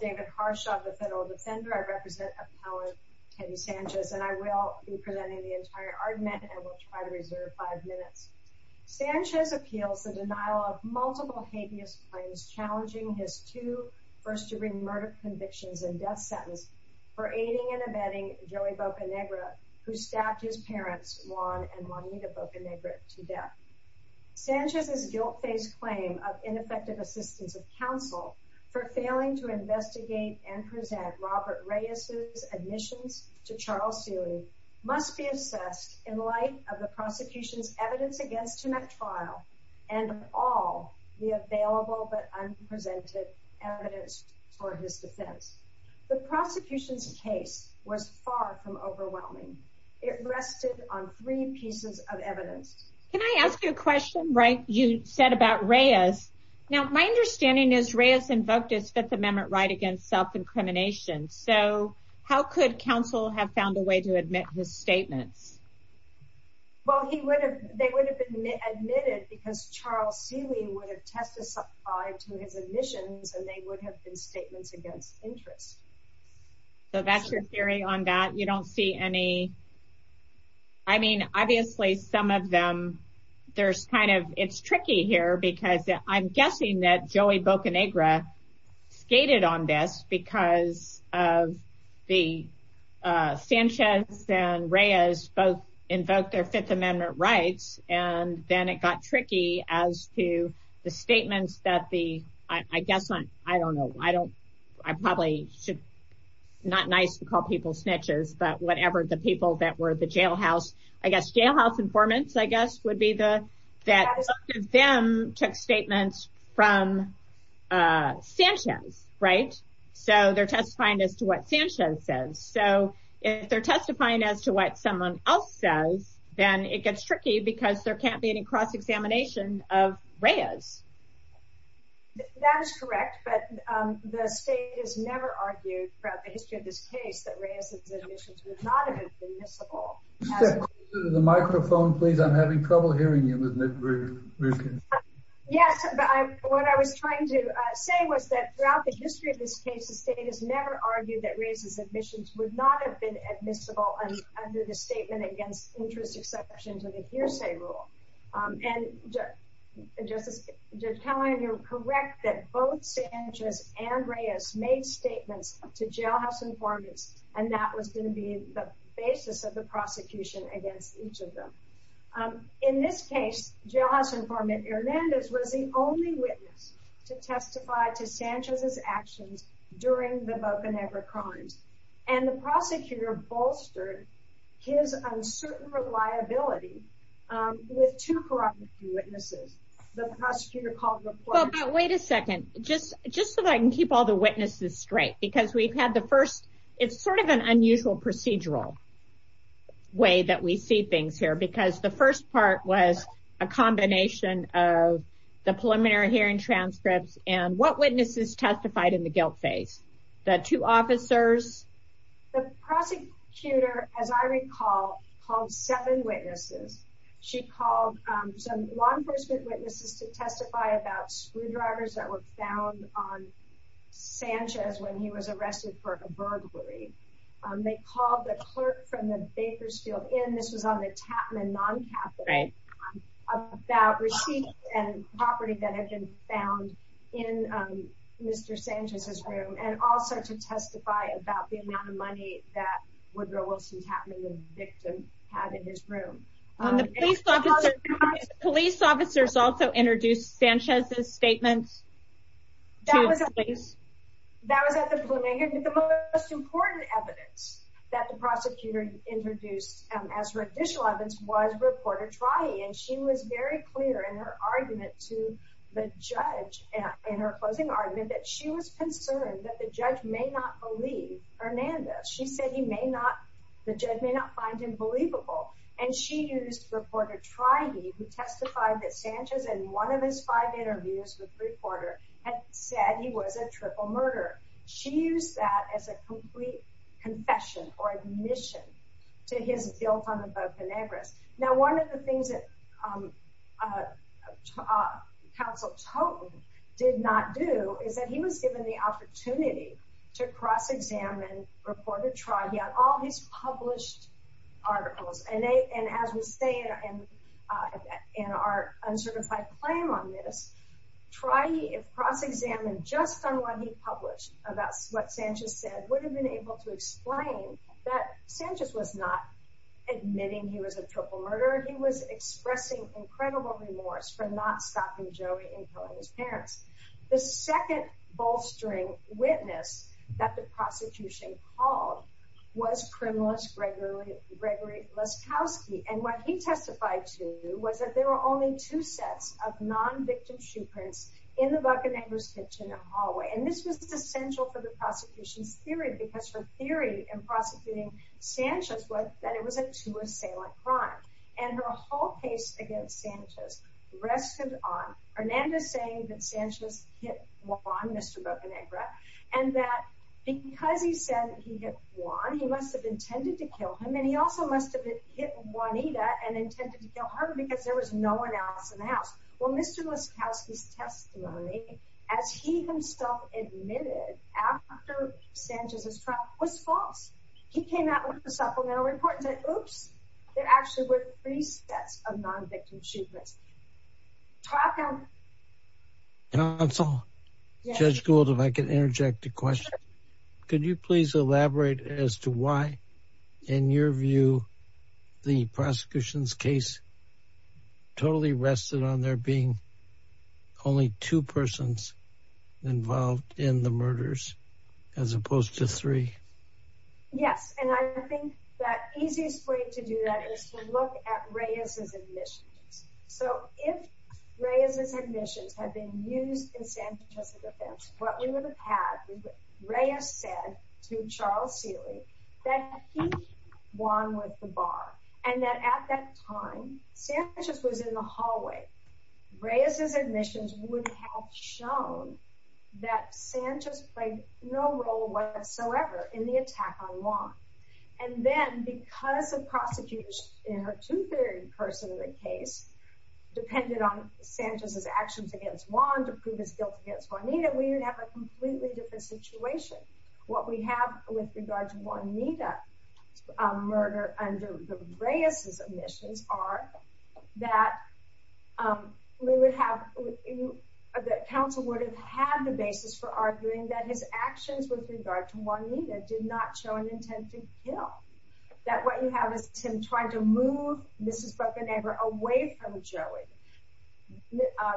David Harsha, the Federal Defender, I represent Appellant Penny Sanchez and I will be presenting the entire argument and will try to reserve five minutes. Sanchez appealed for denial of multiple habeas claims challenging his two first-degree murder convictions and death sentence for aiding and abetting Joey Bocanegra who stabbed his parents Juan and Juanita Bocanegra to death. Sanchez's guilt-based claim of ineffective assistance of counsel for failing to investigate and present Robert Reyes's admission to trial series must be assessed in light of the prosecution's evidence against him at trial and all the available but unprevented evidence for his defense. The prosecution's case was far from overwhelming. It rested on three pieces of evidence. Can I ask you a question? Right, you said about Reyes. Now my understanding is Reyes inducted Fifth Amendment right against self-incrimination. So how could counsel have found a way to admit his statement? Well he would have they would have been admitted because Charles Feeley would have testified to his admissions and they would have been statements against interest. So that's your theory on that you don't see any I mean obviously some of them there's kind of it's tricky here because I'm guessing that Joey Bocanegra skated on this because of the Sanchez and Reyes both invoked their Fifth Amendment rights and then it got tricky as to the statements that the I guess not I don't know I don't I probably should not nice to call people snitchers but whatever the people that were the jailhouse I guess jailhouse informants I guess would be the that them took statements from Sanchez right so they're testifying as to what Sanchez says so if they're testifying as to what someone else does then it gets tricky because there can't be any cross-examination of Reyes. That is correct but the state has never argued throughout the history of this case that Reyes's admissions was not admissible. Is there a microphone please I'm having trouble hearing you. Yes but I what I was trying to say was that throughout the history of this case the state has never argued that Reyes's admissions would not have been admissible under the statement against interest exceptions of the hearsay rule and just telling you correct that both Sanchez and Reyes made statements to jailhouse informants and that was going to be the basis of the prosecution against each of them. In this case jailhouse informant Hernandez was the only witness to testify to Sanchez's actions during the Bocanegra crimes and the prosecutor bolstered his uncertain reliability with two corroborative witnesses. The prosecutor called the court. Wait a second just just so I can keep all the witnesses straight because we've had the first it's sort of an unusual procedural way that we see things here because the first part was a combination of the preliminary hearing transcripts and what witnesses testified in the guilt phase. The two officers. The prosecutor as I recall called seven witnesses. She called some law enforcement witnesses to testify about screwdrivers that were found on Sanchez when he was arrested for a burglary. They called the clerk from the Bakersfield Inn. This is on the Chapman non-capital. Right. About receipts and property that had been found in Mr. Sanchez's room and also to testify about the amount of money that Woodrow Wilson, Chapman's victim had in his room. Police officers also introduced Sanchez's statement. That was at the Bocanegra. The most important evidence that the prosecutor introduced as her official evidence was reporter Trahi and she was very clear in her argument to the judge and in her closing argument that she was concerned that the judge may not believe testified that Sanchez in one of his five interviews with the reporter had said he was a triple murder. She used that as a complete confession or admission to his guilt on the Bocanegra. Now, one of the things that counsel Toten did not do is that he was given the opportunity to cross examine reporter Trahi on all his published articles and as we say in our uncertified claim on this, Trahi cross examined just someone he published about what Sanchez said would have been able to explain that Sanchez was not admitting he was a triple murder. He was expressing incredible remorse for not stopping Joey and killing his parents. The second bolstering witness that the prosecution called was criminalist Gregory and what he testified to was that there were only two sets of non-victim shoe prints in the Bocanegra's kitchen and hallway and this was essential for the prosecution's theory because the theory in prosecuting Sanchez was that it was a two-assailant crime and her whole case against Sanchez rests on Hernandez saying that Sanchez hit Juan, Mr. Bocanegra, and that because he said he hit Juan, he must have intended to kill him and he also must have hit Juanita and intended to kill her because there was no one else in the house. Well, Mr. Bocanegra kept lying as he himself admitted after Sanchez's trial was false. He came out with a supplemental report that oops, there actually were three sets of non-victim shoe prints. Talk now. Counsel, Judge Gould, if I could interject a question. Could you please elaborate as to why in your view the prosecution's case totally rested on there being only two persons involved in the murders as opposed to three? Yes, and I think that easiest way to do that is to look at Reyes's admission. So, if Reyes's admission had been used in Sanchez's offense, what we would have had is Reyes said to Charles Healy that he won with the bar and that at that time Sanchez was in the hallway. Reyes's admissions would have shown that Sanchez played no role whatsoever in the attack on Juan. And then because the prosecution in her two-thirds personally case depended on Sanchez's actions against Juan to prove his guilt against Juanita, we would have a completely different situation. What we have with regards to Juanita's murder under the Reyes's admission are that we would have, that counsel would have had the basis for arguing that his actions with regard to Juanita did not show an intensity of guilt. That what you have is him trying to move Mrs. Bruckenegger away from Joey.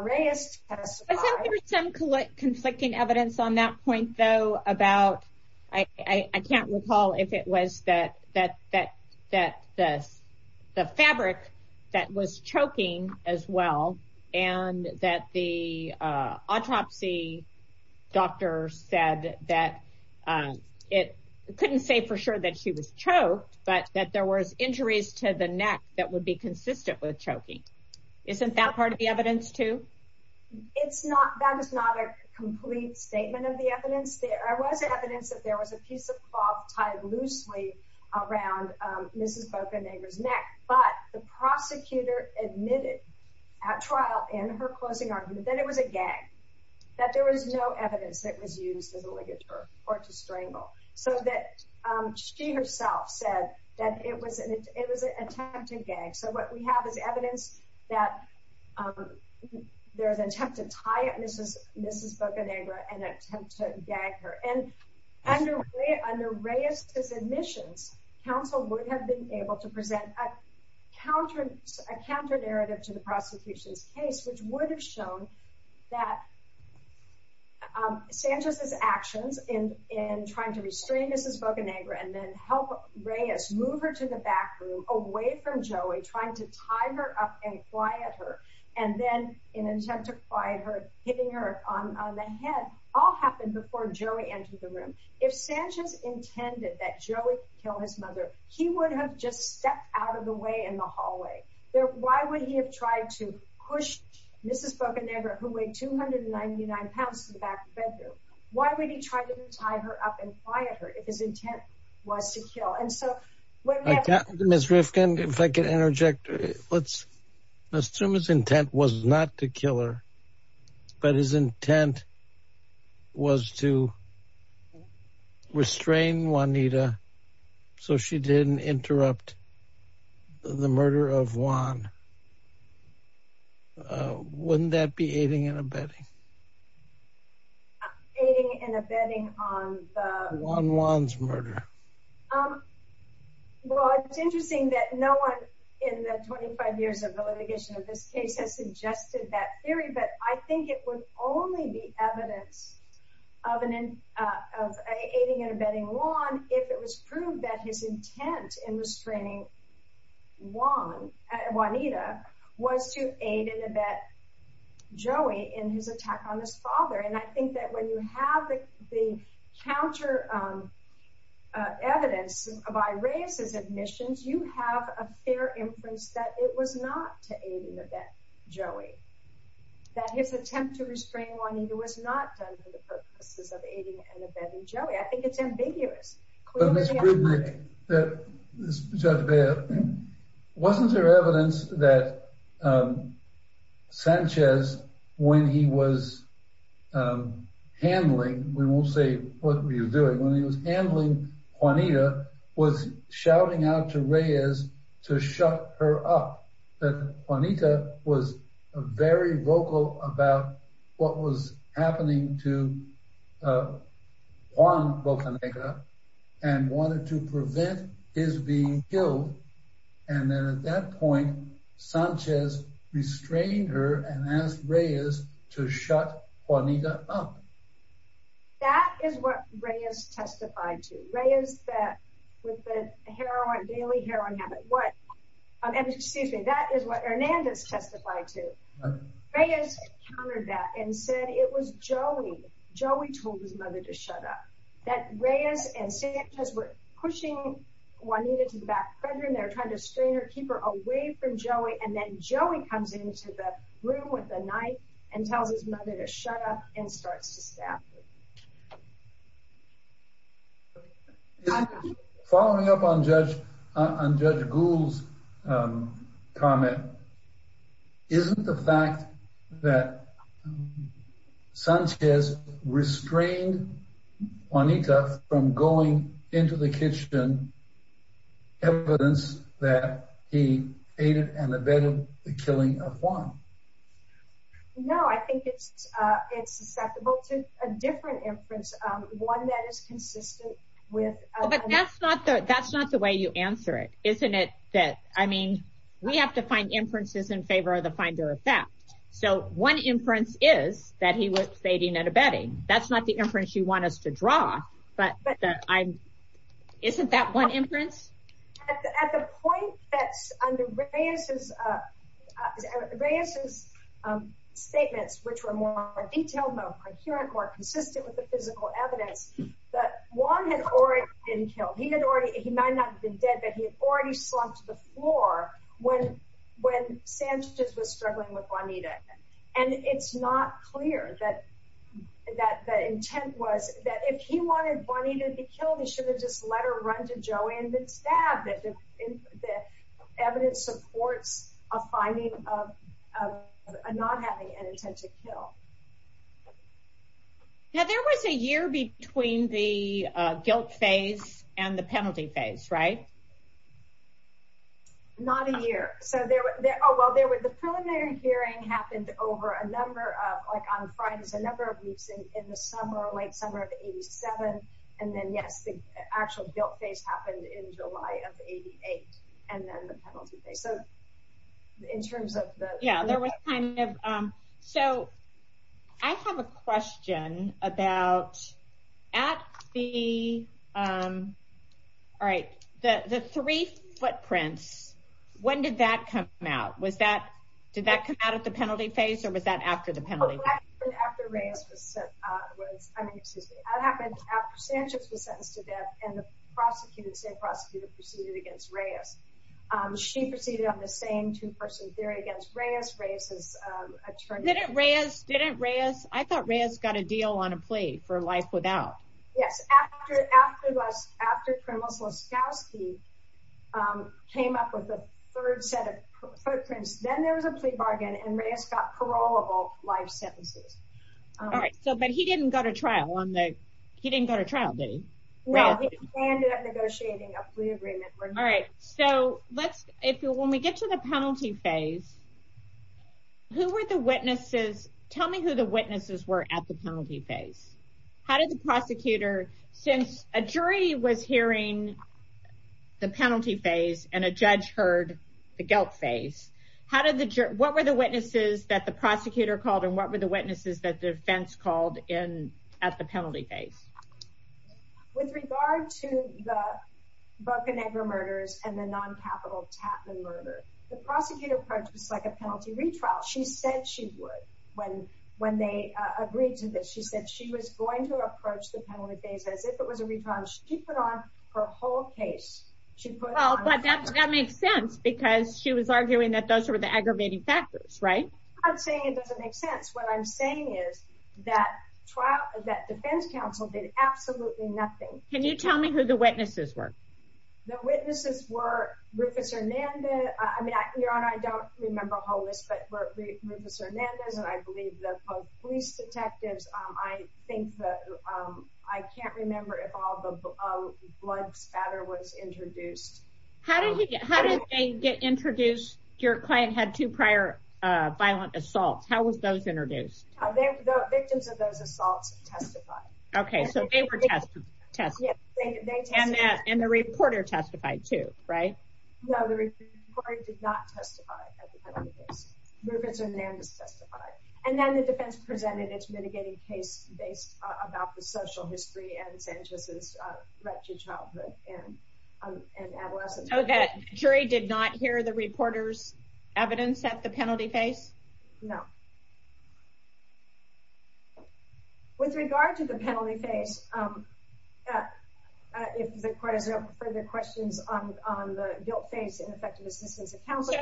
Reyes testified... I think there's some conflicting evidence on that point though about, I can't recall if it was the fabric that was choking as well and that the autopsy doctor said that it couldn't say for sure that she was choked, but that there was injuries to the neck that would be consistent with choking. Isn't that part of the evidence too? It's not, that is not a complete statement of the evidence. There was evidence that there was a piece of cloth tied loosely around Mrs. Bruckenegger's neck, but the prosecutor admitted at trial in her closing argument that it was a gag, that there was no evidence that it was used as a ligature or to strangle. So that she herself said that it was an attempt to gag. So what we have is evidence that there's an attempt to tie up Mrs. Bruckenegger and attempt to gag her. And under Reyes's admission, counsel would have been able to present a counter narrative to the prosecution's case, which would have shown that Sanchez's actions in trying to restrain Mrs. Bruckenegger and then help Reyes move her to the back room away from Joey, trying to tie her up and quiet her, and then in an attempt to quiet her, hitting her on the head, all happened before Joey entered the room. If Sanchez intended that step out of the way in the hallway, why would he have tried to push Mrs. Bruckenegger, who weighed 299 pounds, to the back of the bedroom? Why would he try to tie her up and quiet her if his intent was to kill? And so- Ms. Rifkin, if I could interject, let's assume his intent was not to kill but his intent was to restrain Juanita so she didn't interrupt the murder of Juan. Wouldn't that be aiding and abetting? Aiding and abetting on the- Juan Juan's murder. Well, it's interesting that no one in the 25 years of the litigation of this case has suggested that theory, but I think it was only the evidence of an- of aiding and abetting Juan if it was proved that his intent in restraining Juan, Juanita, was to aid and abet Joey in his attack on his father. And I think that when you have the counter evidence by Reyes's admissions, you have a fair inference that it was not to aid and abet Joey, that his attempt to restrain Juanita was not done for the purposes of aiding and abetting Joey. I think it's ambiguous. Judge Baird, wasn't there evidence that Sanchez, when he was handling- we won't say what he was handling Juanita, was shouting out to Reyes to shut her up, that Juanita was very vocal about what was happening to Juan Bocanegra and wanted to prevent his being killed? And then at that point, Reyes said, with the heroin- daily heroin habit, what- and excuse me, that is what Hernandez testified to. Reyes countered that and said it was Joey, Joey told his mother to shut up, that Reyes and Sanchez were pushing Juanita to the back bedroom, they were trying to stay her- keep her away from Joey, and then Joey comes into the room with a knife and tells his mother to shut up and starts to stab her. Following up on Judge Gould's comment, isn't the fact that Sanchez restrained Juanita from going into the kitchen evidence that he aided and abetted the killing of Juan? No, I think it's- it's discussable. It's just a different inference, one that is consistent with- Well, but that's not the- that's not the way you answer it, isn't it? That, I mean, we have to find inferences in favor of the finder effect. So, one inference is that he was aiding and abetting. That's not the inference you want us to draw, but I'm- isn't that one inference? At the point that under Reyes's- Reyes's statements, which were more detailed, more coherent, more consistent with the physical evidence, that Juan had already been killed. He had already- he might not have been dead, but he had already slumped to the floor when- when Sanchez was struggling with Juanita. And it's not clear that- that the intent was that if he wanted Juanita to be killed, he should have just let her run to Joey, and it's sad that just- that evidence supports a finding of- of not having an intent to kill. Now, there was a year between the guilt phase and the penalty phase, right? Not a year. So, there- oh, well, there was- the preliminary hearing happened over a number of- and then, yes, the actual guilt phase happened in July of the 88th, and then the penalty phase. So, in terms of the- Yeah, there was kind of- so, I have a question about at the- all right, the- the three footprints, when did that come out? Was that- did that come out at the penalty phase, or was that after the penalty? Oh, that was after Reyes was- was- I mean, excuse me. That happened after Sanchez was sentenced to death, and the prosecutor, same prosecutor, proceeded against Reyes. She proceeded on the same two-person theory against Reyes. Reyes was- Didn't Reyes- didn't Reyes- I thought Reyes got a deal on a plea for life without. Yes, after- after- after criminal scouting came up with a third set of footprints, then there was a plea bargain, and Reyes got parolable life sentences. All right, so- but he didn't go to trial on the- he didn't go to trial, did he? No, he ended up negotiating a plea agreement. All right, so, let's- if- when we get to the penalty phase, who were the witnesses- tell me who the witnesses were at the penalty phase. How did the prosecutor- since a jury was hearing the penalty phase, and a judge heard the guilt phase, how did the jur- what were the witnesses that the prosecutor called, and what were the witnesses that the defense called in- at the penalty phase? With regard to the Bocanegra murders and the non-capital Tappan murder, the prosecutor approached it like a penalty retrial. She said she would when- when they agreed to this. She said she was going to approach the penalty phase, but as if it was a retrial, she put on her whole case. She put on- Well, but that- that makes sense, because she was arguing that those were the aggravating factors, right? I'm saying it doesn't make sense. What I'm saying is that trial- that defense counsel did absolutely nothing. Can you tell me who the witnesses were? The witnesses were Rufus Hernandez- I mean, Your Honor, I don't remember a whole list, but Rufus Hernandez, and I believe the police detectives. I think that- I can't remember if blood spatter was introduced. How did they get introduced? Your client had two prior violent assaults. How were those introduced? The victims of those assaults testified. Okay, so they were testified. And the reporter testified too, right? No, the reporter did not testify. Rufus Hernandez testified. And then the defense presented its mitigating case based about the social history and Sanchez's wretched childhood and adolescence. Okay, the jury did not hear the reporter's evidence at the penalty phase? No. With regard to the penalty phase, it's been quite a bit of further questions on the guilt phase and effective assistance of counsel.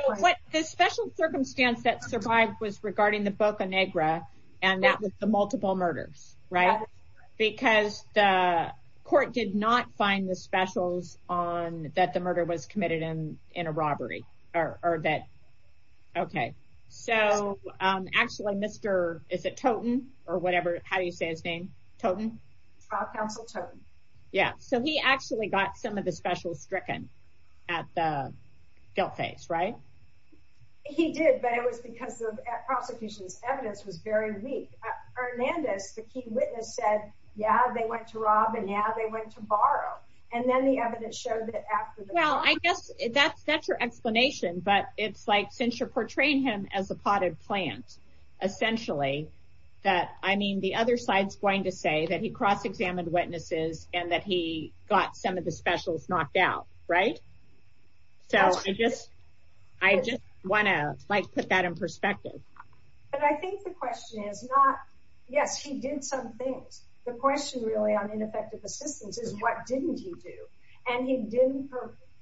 The special circumstance that survived was regarding the Boca Negra, and that was the multiple murders, right? Because the court did not find the specials on- that the murder was committed in a robbery, or that- okay. So, actually, Mr.- is it Toton, or whatever? How do you say his name? Toton? Counsel Toton. Yeah, so he actually got some of the specials stricken at the guilt phase, right? He did, but it was because the prosecution's very weak. Hernandez, the key witness, said, yeah, they went to rob, and yeah, they went to borrow. And then the evidence showed that- Well, I guess that's your explanation, but it's like, since you're portraying him as a potted plant, essentially, that, I mean, the other side's going to say that he cross-examined witnesses and that he got some of the specials knocked out, right? So, I just- I just want to, like, put that in perspective. But I think the question is not- yes, he did some things. The question, really, on ineffective assistance is, what didn't he do? And he didn't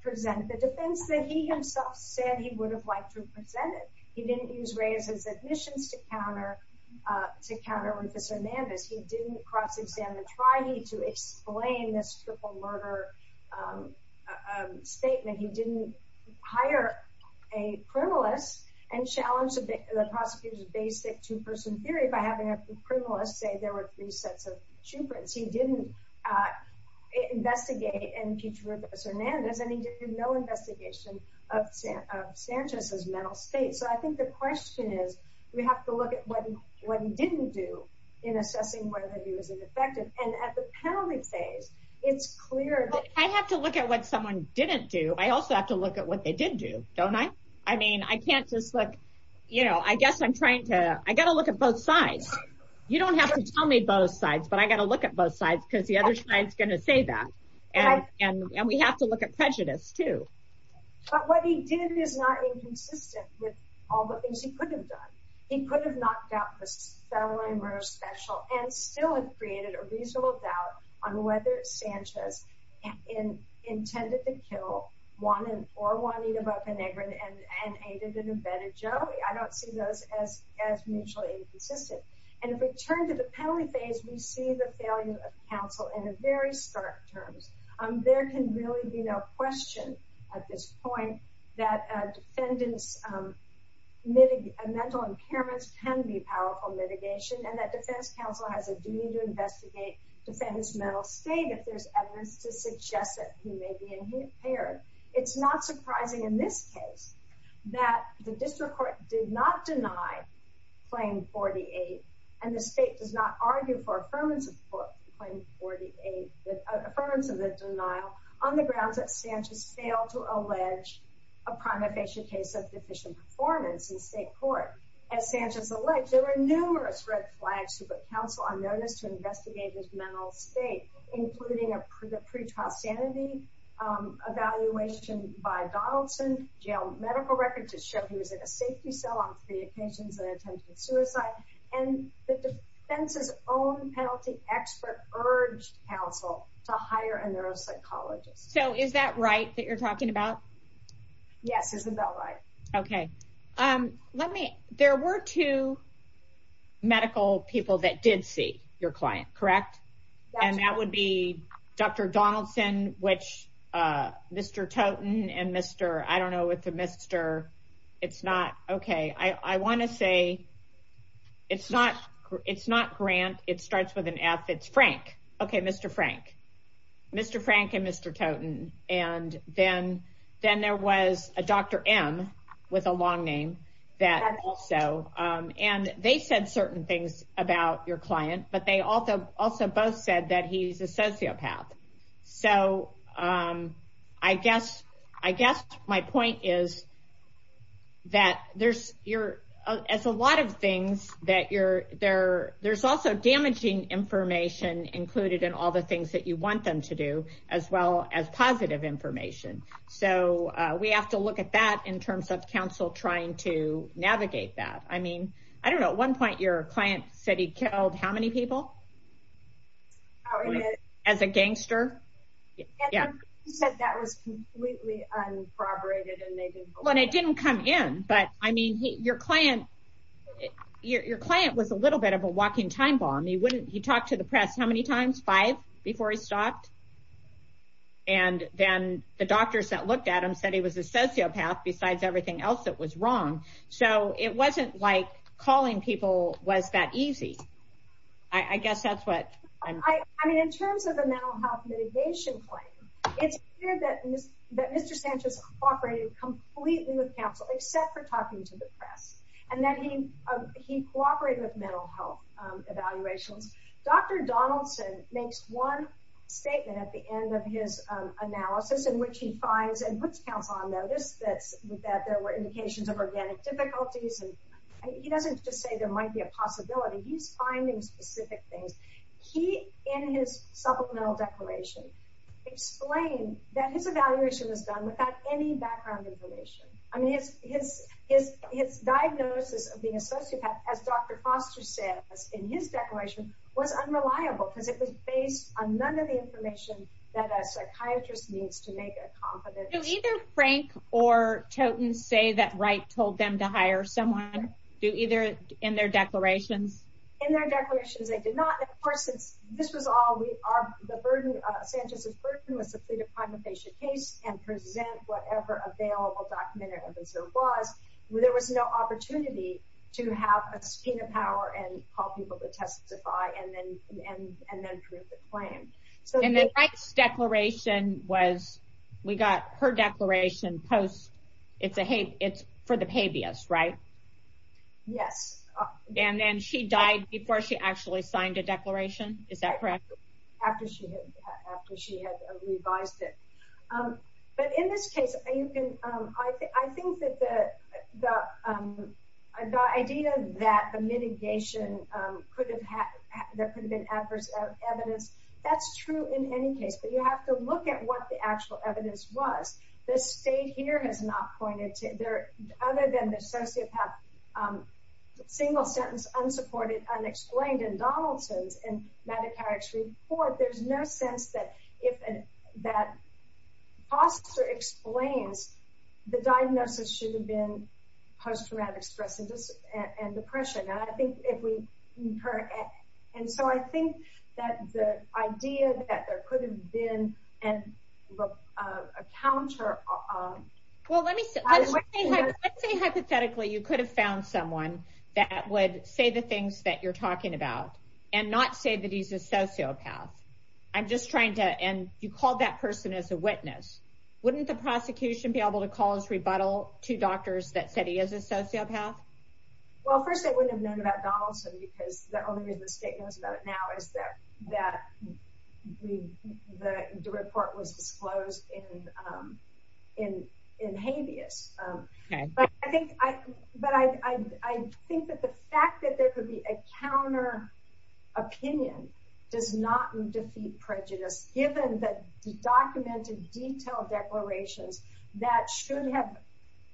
present the defense that he himself said he would have liked to present. He didn't use Ray of his admissions to counter- to counter with Mr. Hernandez. He didn't cross-examine the statement. He didn't hire a criminalist and challenge the prosecution's basic two-person theory by having a criminalist say there were three sets of children. He didn't investigate and teach for Mr. Hernandez, and he did no investigation of Sanchez's mental state. So, I think the question is, we have to look at what he didn't do in assessing whether he was effective. And at the penalty phase, it's clear that- I have to look at what someone didn't do. I also have to look at what they did do, don't I? I mean, I can't just look- you know, I guess I'm trying to- I got to look at both sides. You don't have to tell me both sides, but I got to look at both sides because the other side's going to say that. And we have to look at prejudice, too. But what he did is not inconsistent with all the things he could have done. He could have not gotten the celery and roast special, and still has created a reasonable doubt on whether Sanchez intended to kill Juanita or Juanita Bocanegra and aided and abetted Joey. I don't see those as mutually inconsistent. And if we turn to the penalty phase, we see the failure of counsel in a very stark term. There can really be no question at this point that a defendant's mental impairments can be a powerful mitigation, and that defense counsel has a duty to investigate the defendant's mental state if there's evidence to suggest that he may be impaired. It's not surprising in this case that the district court did not deny Claim 48, and the state did not argue for affirmative denial on the grounds that Sanchez failed to allege a primary patient case of deficient performance in state court. As Sanchez alleged, there were numerous red flags to put counsel on notice to investigate his mental state, including a pretrial sanity evaluation by Donaldson, jail medical records that showed he was in a safety cell on pre-intentions and attempted suicide, and the defense's own penalty expert urged counsel to hire a neuropsychologist. So is that right that you're talking about? Yes, it's about right. Okay. Let me, there were two medical people that did see your client, correct? And that would be Dr. Donaldson, which Mr. Toton and Mr., I don't know what the Mr., it's not, okay, I want to say, it's not Grant, it starts with an F, it's Frank. Okay, Mr. Frank. Mr. Frank and Mr. Toton, and then there was a Dr. M with a long name that also, and they said certain things about your client, but they also both said that he's a sociopath. So I guess my point is that there's your, it's a lot of things that you're, there's also damaging information included in all the things that you want them to do, as well as positive information. So we have to look at that in terms of counsel trying to navigate that. I mean, I don't know, at one point your client said he killed how many people? As a gangster? Yeah. He said that was completely unproper and they didn't come in, but I mean, your client, your client was a little bit of a time bomb. He wouldn't, he talked to the press how many times? Five before he stopped? And then the doctors that looked at him said he was a sociopath besides everything else that was wrong. So it wasn't like calling people was that easy. I guess that's what I'm saying. I mean, in terms of a mental health mitigation plan, it's clear that Mr. Sanchez cooperated completely with counsel except for talking to the press and that he cooperated with mental health evaluation. Dr. Donaldson makes one statement at the end of his analysis in which he finds and puts count on notice that there were indications of organic difficulties and he doesn't just say there might be a possibility. He's finding specific things. He, in his supplemental declaration, explains that his evaluation was done without any background information. I mean, his diagnosis of being a sociopath, as Dr. Foster said in his declaration, was unreliable because it was based on none of the information that a psychiatrist needs to make it competent. So either Frank or Toten say that Wright told them to hire someone either in their declaration? In their declaration, they did not. Of course, this was all the burden of Sanchez's person was to see the kind of patient case and present whatever available document there was. There was no opportunity to have a scheme of power and call people to testify and then drew the claim. And then Wright's declaration was, we got her declaration post, it's for the habeas, right? Yes. And then she died before she actually signed a declaration. Is that correct? After she had revised it. But in this case, I think that the idea that the mitigation could have been adverse evidence, that's true in any case. But you have to look at what the single sentence unsupported, unexplained in Donaldson's and Medicare's report. There's no sense that if Foster explained, the diagnosis should have been post-traumatic stress and depression. And so I think that the idea that there could have been a counter... Well, let me say hypothetically, you could have found someone that would say the things that you're talking about and not say that he's a sociopath. I'm just trying to, and you called that person as a witness. Wouldn't the prosecution be able to call his rebuttal to doctors that said he is a sociopath? Well, first they wouldn't have known about Donaldson because the only thing they knew was that he was a sociopath. But I think that the fact that there could be a counter-opinion does not defeat prejudice, given the documented detailed declarations that should have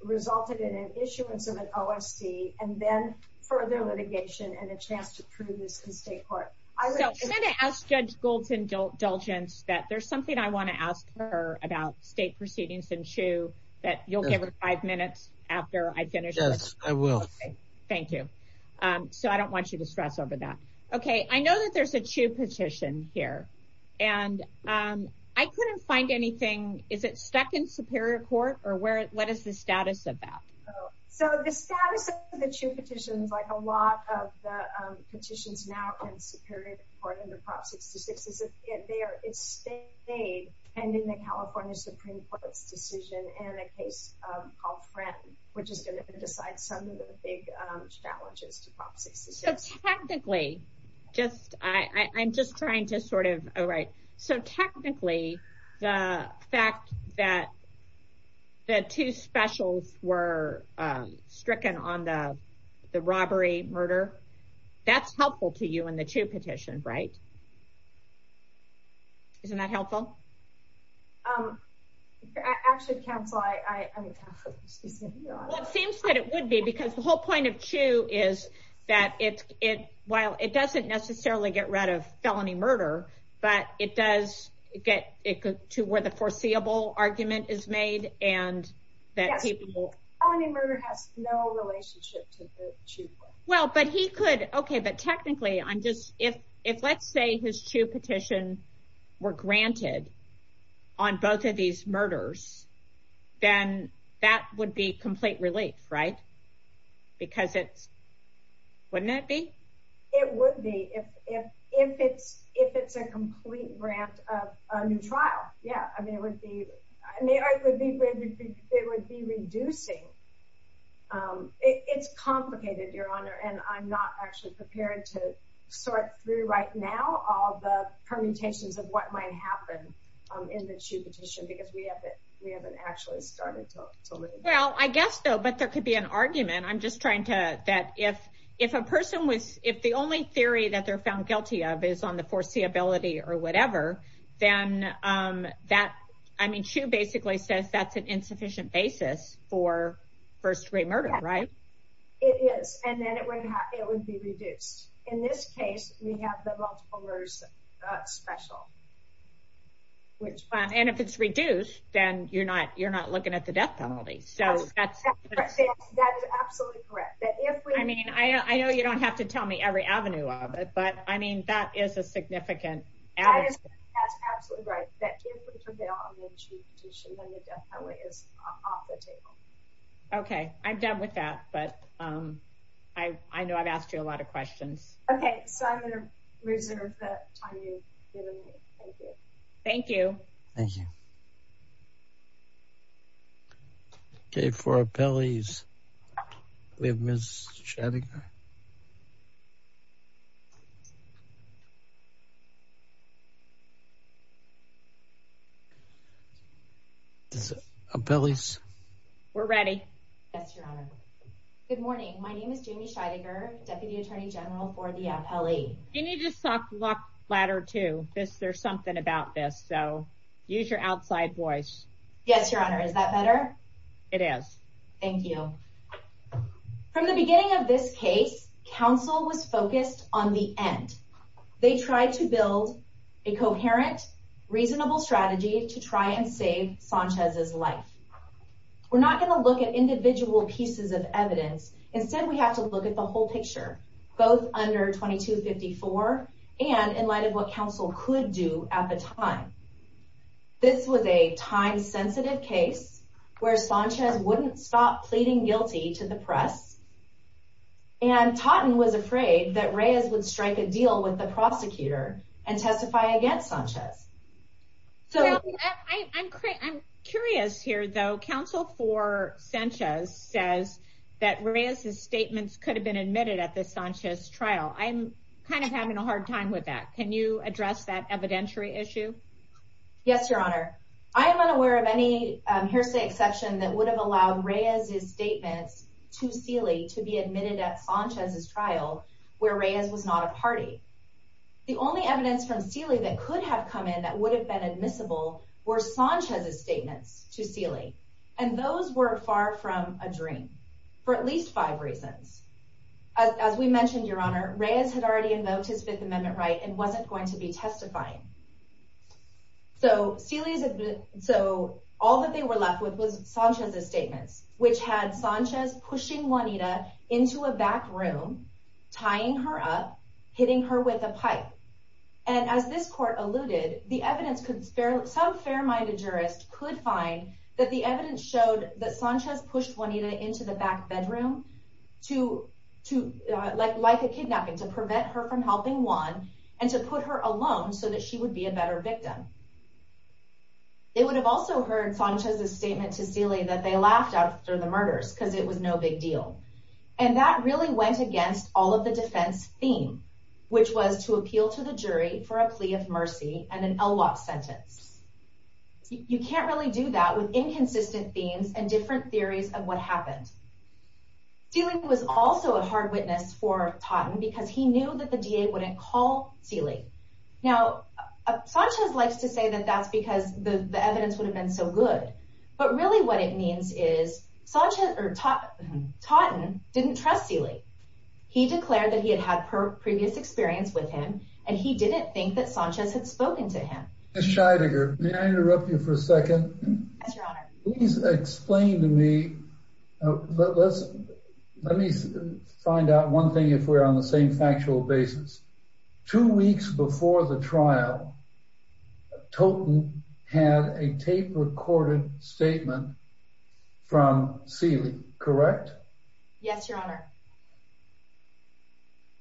resulted in an issuance of an OSB and then further litigation and a chance to prove this in state court. So I'm going to ask Judge Goldson-Dulgence that there's something I don't want you to stress over that. You'll give her five minutes after I finish. Yes, I will. Thank you. So I don't want you to stress over that. Okay. I know that there's a Chiu petition here and I couldn't find anything. Is it second superior court or what is the status of that? So the status of the Chiu petition is like a lot of the petitions now in the superior court under Prop 66. It's the same state and in the California Supreme Court's decision and a case called Friends, which is going to decide some of the big challenges to Prop 66. So technically, just, I'm just trying to sort of, all right, so technically the fact that the two specials were not included in the Chiu petition. Isn't that helpful? I actually can't fly. It seems that it would be because the whole point of Chiu is that it, while it doesn't necessarily get rid of felony murder, but it does get to where the foreseeable argument is made and that people... Felony murder has no relationship to Chiu. Well, but he could. Okay. But technically I'm just, if let's say his Chiu petitions were granted on both of these murders, then that would be complete relief, right? Because it wouldn't that be? It would be if it's a complete grant of a new trial. Yeah. I mean, Chiu basically says that's an insufficient basis for first degree murder, right? It is. And then it would be reduced. In this case, we have the multiple murders special. And if it's reduced, then you're not, you're not looking at the death penalty. So that's absolutely correct. I mean, I know you don't have to tell me every avenue of it, but I mean, that is a significant... That is absolutely right. That is the answer. I know I've asked you a lot of questions. Okay. So I'm going to reserve that for you. Thank you. Thank you. Okay. For appellees, we have Ms. Shattinger. Is it appellees? We're ready. Yes, Your Honor. Good morning. My name is Jamie Shattinger, Deputy Attorney General for the appellee. Can you just talk a lot flatter too? There's something about this. So use your outside voice. Yes, Your Honor. Is that better? It is. Thank you. From the beginning of this case, counsel was focused on the end. They tried to build a coherent, reasonable strategy to try and save Sanchez's life. We're not going to look at individual pieces of evidence. Instead, we have to look at the whole picture, both under 2254 and in light of what counsel could do at the time. This was a time-sensitive case where Sanchez wouldn't stop pleading guilty to the press and Totten was afraid that Reyes would strike a deal with the prosecutor and testify against Sanchez. I'm curious here, though. Counsel for Sanchez says that Reyes's statements could have been admitted at the Sanchez trial. I'm kind of having a hard time with that. Can you address that evidentiary issue? Yes, Your Honor. I am unaware of any hearsay exception that would have allowed Reyes's statement to Feeley to be admitted at Sanchez's trial where Reyes was not a party. The only evidence from Feeley that could have come in that would have been admissible were Sanchez's statement to Feeley, and those were far from a dream for at least five reasons. As we mentioned, Your Honor, Reyes had already invoked his Fifth Amendment right and wasn't going to be testifying. So all that they were left with was Sanchez's statement, which had Sanchez pushing Juanita into a back room, tying her up, hitting her with a pipe. And as this court alluded, the evidence could – some fair-minded jurists could find that the evidence showed that Sanchez pushed Juanita into the back bedroom to – like a kidnapping – to prevent her from helping Juan and to put her alone so that she would be a better victim. They would have also heard Sanchez's statement to Feeley that they laughed after the murders because it was no big deal. And that really went against all of the defense's theme, which was to appeal to the jury for a plea of mercy and an a-lot sentence. You can't really do that with inconsistent themes and different theories of what happened. Feeley was also a hard witness for Totten because he knew that the DA wouldn't call Feeley. Now, Sanchez likes to say that that's because the evidence would have been so good. But really what it means is Totten didn't trust Feeley. He declared that he had had her previous experience with him, and he didn't think that Sanchez had spoken to him. Ms. Scheidegger, may I interrupt you for a second? Yes, Your Honor. Please explain to me – let me find out one thing if we're on the same factual basis. Two weeks before the trial, Totten had a tape-recorded statement from Feeley, correct? Yes, Your Honor.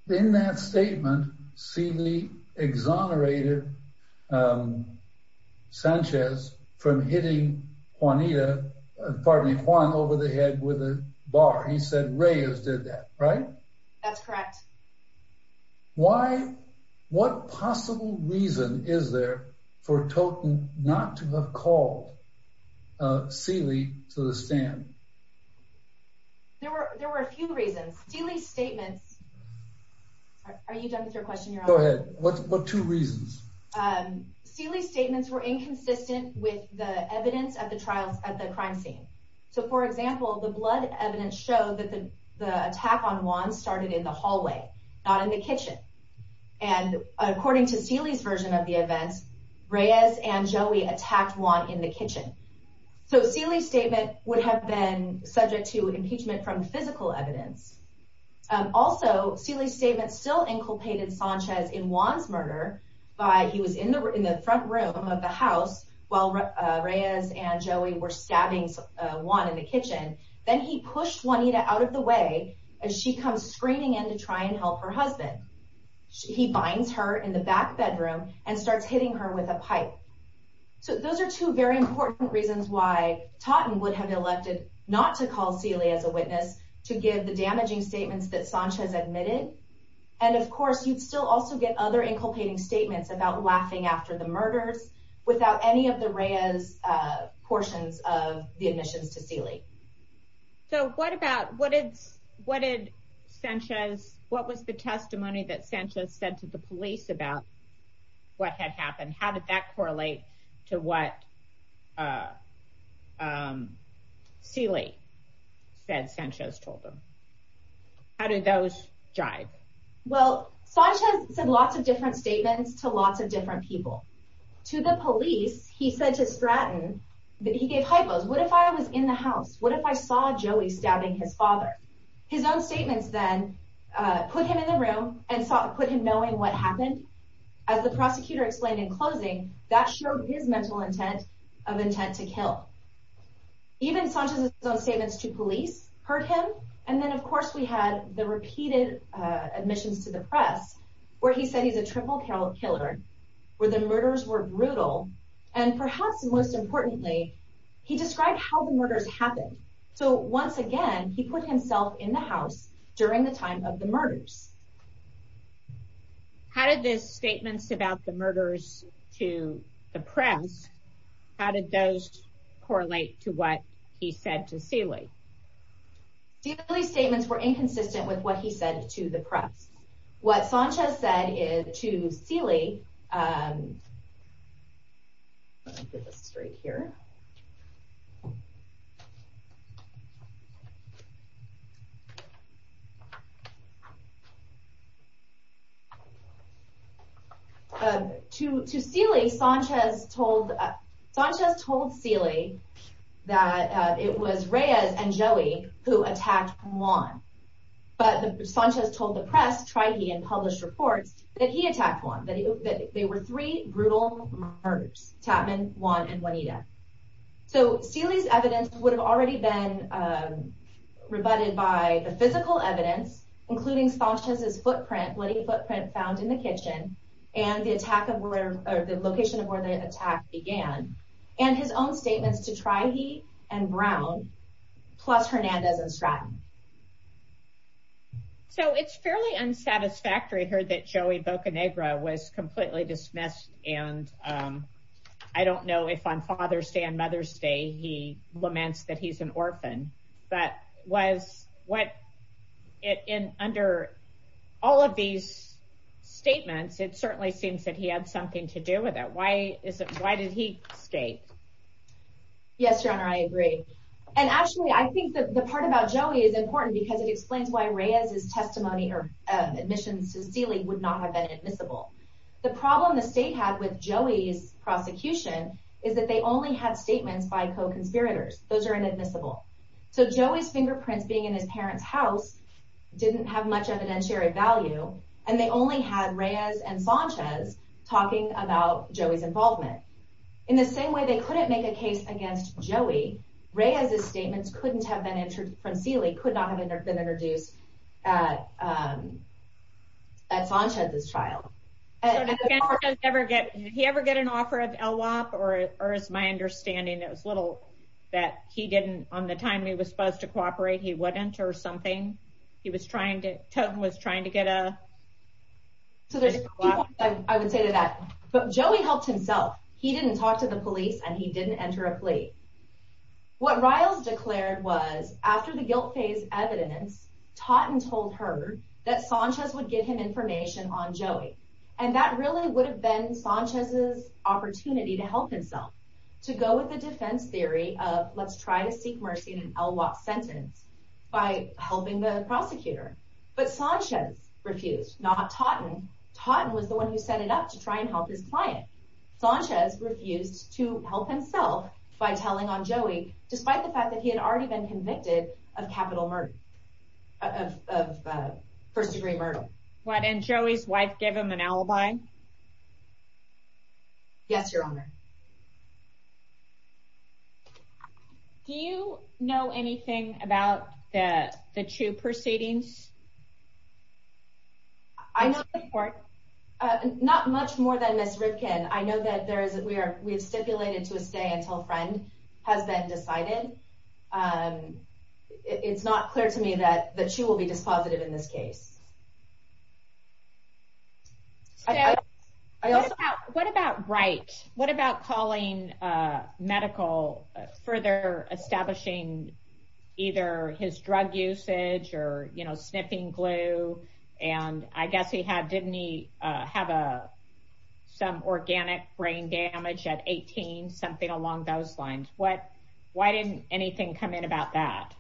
In that statement, Feeley exonerated Sanchez from hitting Juanita – pardon me, Juan – over the head with a bar. He said Reyes did that, right? That's correct. Why – what possible reason is there for Totten not to have called Feeley to the stand? There were a few reasons. Feeley's statement – are you done with your question, Your Honor? Go ahead. What two reasons? Feeley's statements were inconsistent with the evidence at the crime scene. So, for example, the blood evidence showed that the attack on Juan started in the hallway, not in the kitchen. And according to Feeley's version of the event, Reyes and Joey attacked Juan in the kitchen. So, Feeley's statement would have been subject to impeachment from physical evidence. Also, Feeley's statement still inculcated Sanchez in Juan's murder by – he was in the front room of the house while Reyes and Joey were stabbing Juan in the kitchen. Then he pushed Juanita out of the way as she comes screaming in to try and help her husband. He binds her in the back bedroom and starts hitting her with a pipe. So, those are two very important reasons why Totten would have elected not to call Feeley as a witness to give the damaging statements that Sanchez admitted. And, of course, you'd still also get other inculcating statements about laughing after the murder without any of the Reyes portions of the admissions to Feeley. So, what about – what did Sanchez – what was the testimony that Sanchez said to the police about? What had happened? How did that correlate to what Feeley said Sanchez told them? How did those jive? Well, Sanchez said lots of different statements to lots of different people. To the police, he said to Stratton that he gave hypos. What if I was in the house? What if I saw Joey stabbing his father? And those statements then put him in the room and put him knowing what happened. As the prosecutor explained in closing, that showed his mental intent of intent to kill. Even Sanchez's own statements to police hurt him. And then, of course, we had the repeated admissions to the press where he said he's a triple killer, where the murders were brutal, and perhaps most importantly, he described how the murders happened. So, once again, he put himself in the house during the time of the murders. How did the statements about the murders to the press – how did those correlate to what he said to Feeley? Feeley's statements were inconsistent with what he said to the press. What Sanchez said is to Feeley. To Feeley, Sanchez told Feeley that it was Reyes and Joey who attacked Juan. But Sanchez told the press, Trihe, and published reports that he attacked Juan, that they were three brutal murders, Chapman, Juan, and Juanita. So, Feeley's evidence would have already been rebutted by the physical evidence, including Sanchez's footprint, bloody footprint found in the kitchen, and the location of where the attack began, and his own statements to Trihe and Brown, plus Hernandez and Stratton. So, it's fairly unsatisfactory to hear that Joey Bocanegra was completely dismissed, and I don't know if on Father's Day and Mother's Day he laments that he's an orphan, but under all of these statements, it certainly seems that he had something to do with it. Why did he escape? Yes, John, I agree. And actually, I think the part about Joey is important because it explains why Reyes's testimony or admission to Feeley would not have been admissible. The problem the state has with Joey's prosecution is that they only have statements by co-conspirators. Those are inadmissible. So, Joey's fingerprint being in his parents' house didn't have much evidentiary value, and they only had Reyes and Sanchez talking about Joey's involvement. In the same way they couldn't make a case against Joey, Reyes's statements couldn't have been introduced from Feeley, could not have been introduced at Sanchez's trial. Did he ever get an offer of ELWOC, or is my understanding that he didn't, on the time he was supposed to cooperate, he wouldn't or something? He was trying to, get a… I would say to that, but Joey helped himself. He didn't talk to the police, and he didn't enter a plea. What Reyes declared was, after the guilt-based evidence, Totten told her that Sanchez would give him information on Joey, and that really would have been Sanchez's opportunity to help himself, to go with the defense theory of, let's try to seek mercy in an ELWOC sentence by helping the prosecutor. But Sanchez refused, not Totten. Totten was the one who set it up to try and help his client. Sanchez refused to help himself by telling on Joey, despite the fact that he had already been convicted of capital murder, of first-degree murder. What, and Joey's wife gave him an alibi? Yes, Your Honor. Do you know anything about the, the two proceedings? I know the report. Not much more than Ms. Ripken. I know that there is, that we are, we have stipulated to a stay and hold friends has been decided. It's not clear to me that, that she will be dispositive in this case. What about Bright? What about calling medical, further establishing either his drug usage or, you know, sniffing glue? And I guess he had, didn't he have a, some organic brain damage at 18, something along those lines? What, why didn't anything come in about that?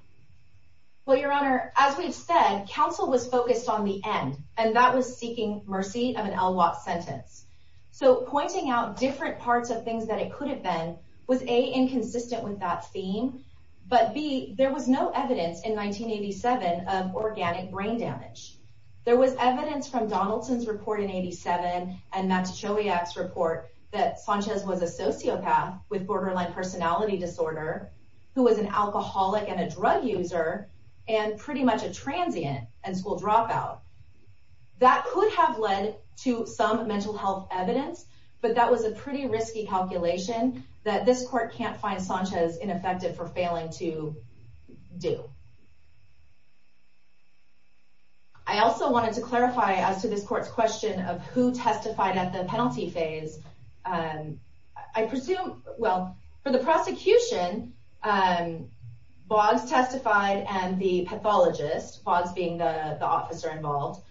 Well, Your Honor, as we've said, counsel was focused on the end, and that was seeking mercy of an LWAT sentence. So pointing out different parts of things that it could have been was A, inconsistent with that theme, but B, there was no evidence in 1987 of organic brain damage. There was evidence from Donaldson's report in 87, and that's Chelyab's report that Sanchez was a sociopath with borderline personality disorder, who was an alcoholic and a drug user, and pretty much a transient in school dropouts. That could have led to some mental health evidence, but that was a pretty risky calculation that this court can't find Sanchez ineffective for failing to do. I also wanted to clarify as to this court's question of who testified at the penalty phase I presume, well, for the prosecution, Boggs testified and the pathologist, Boggs being the officer involved,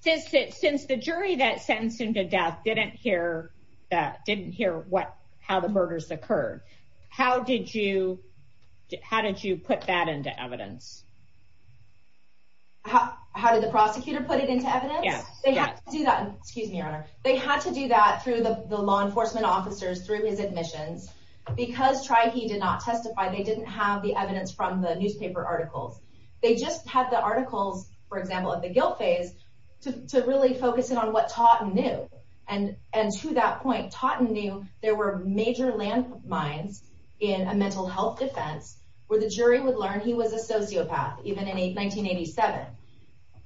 since the jury that sentenced him to death didn't hear that, didn't hear what, how the murders occurred, how did you, how did you put that into evidence? How did the prosecutor put it into evidence? Yes. They had to do that, excuse me, Your Honor, they had to do that through the law enforcement officers, through his admissions, because Trihe did not testify, they didn't have the evidence from the newspaper article. They just had the article, for example, at the guilt phase to really focus in on what Totten knew, and to that point Totten knew there were major landsmines in a mental health defense where the jury would learn he was a sociopath, even in 1987.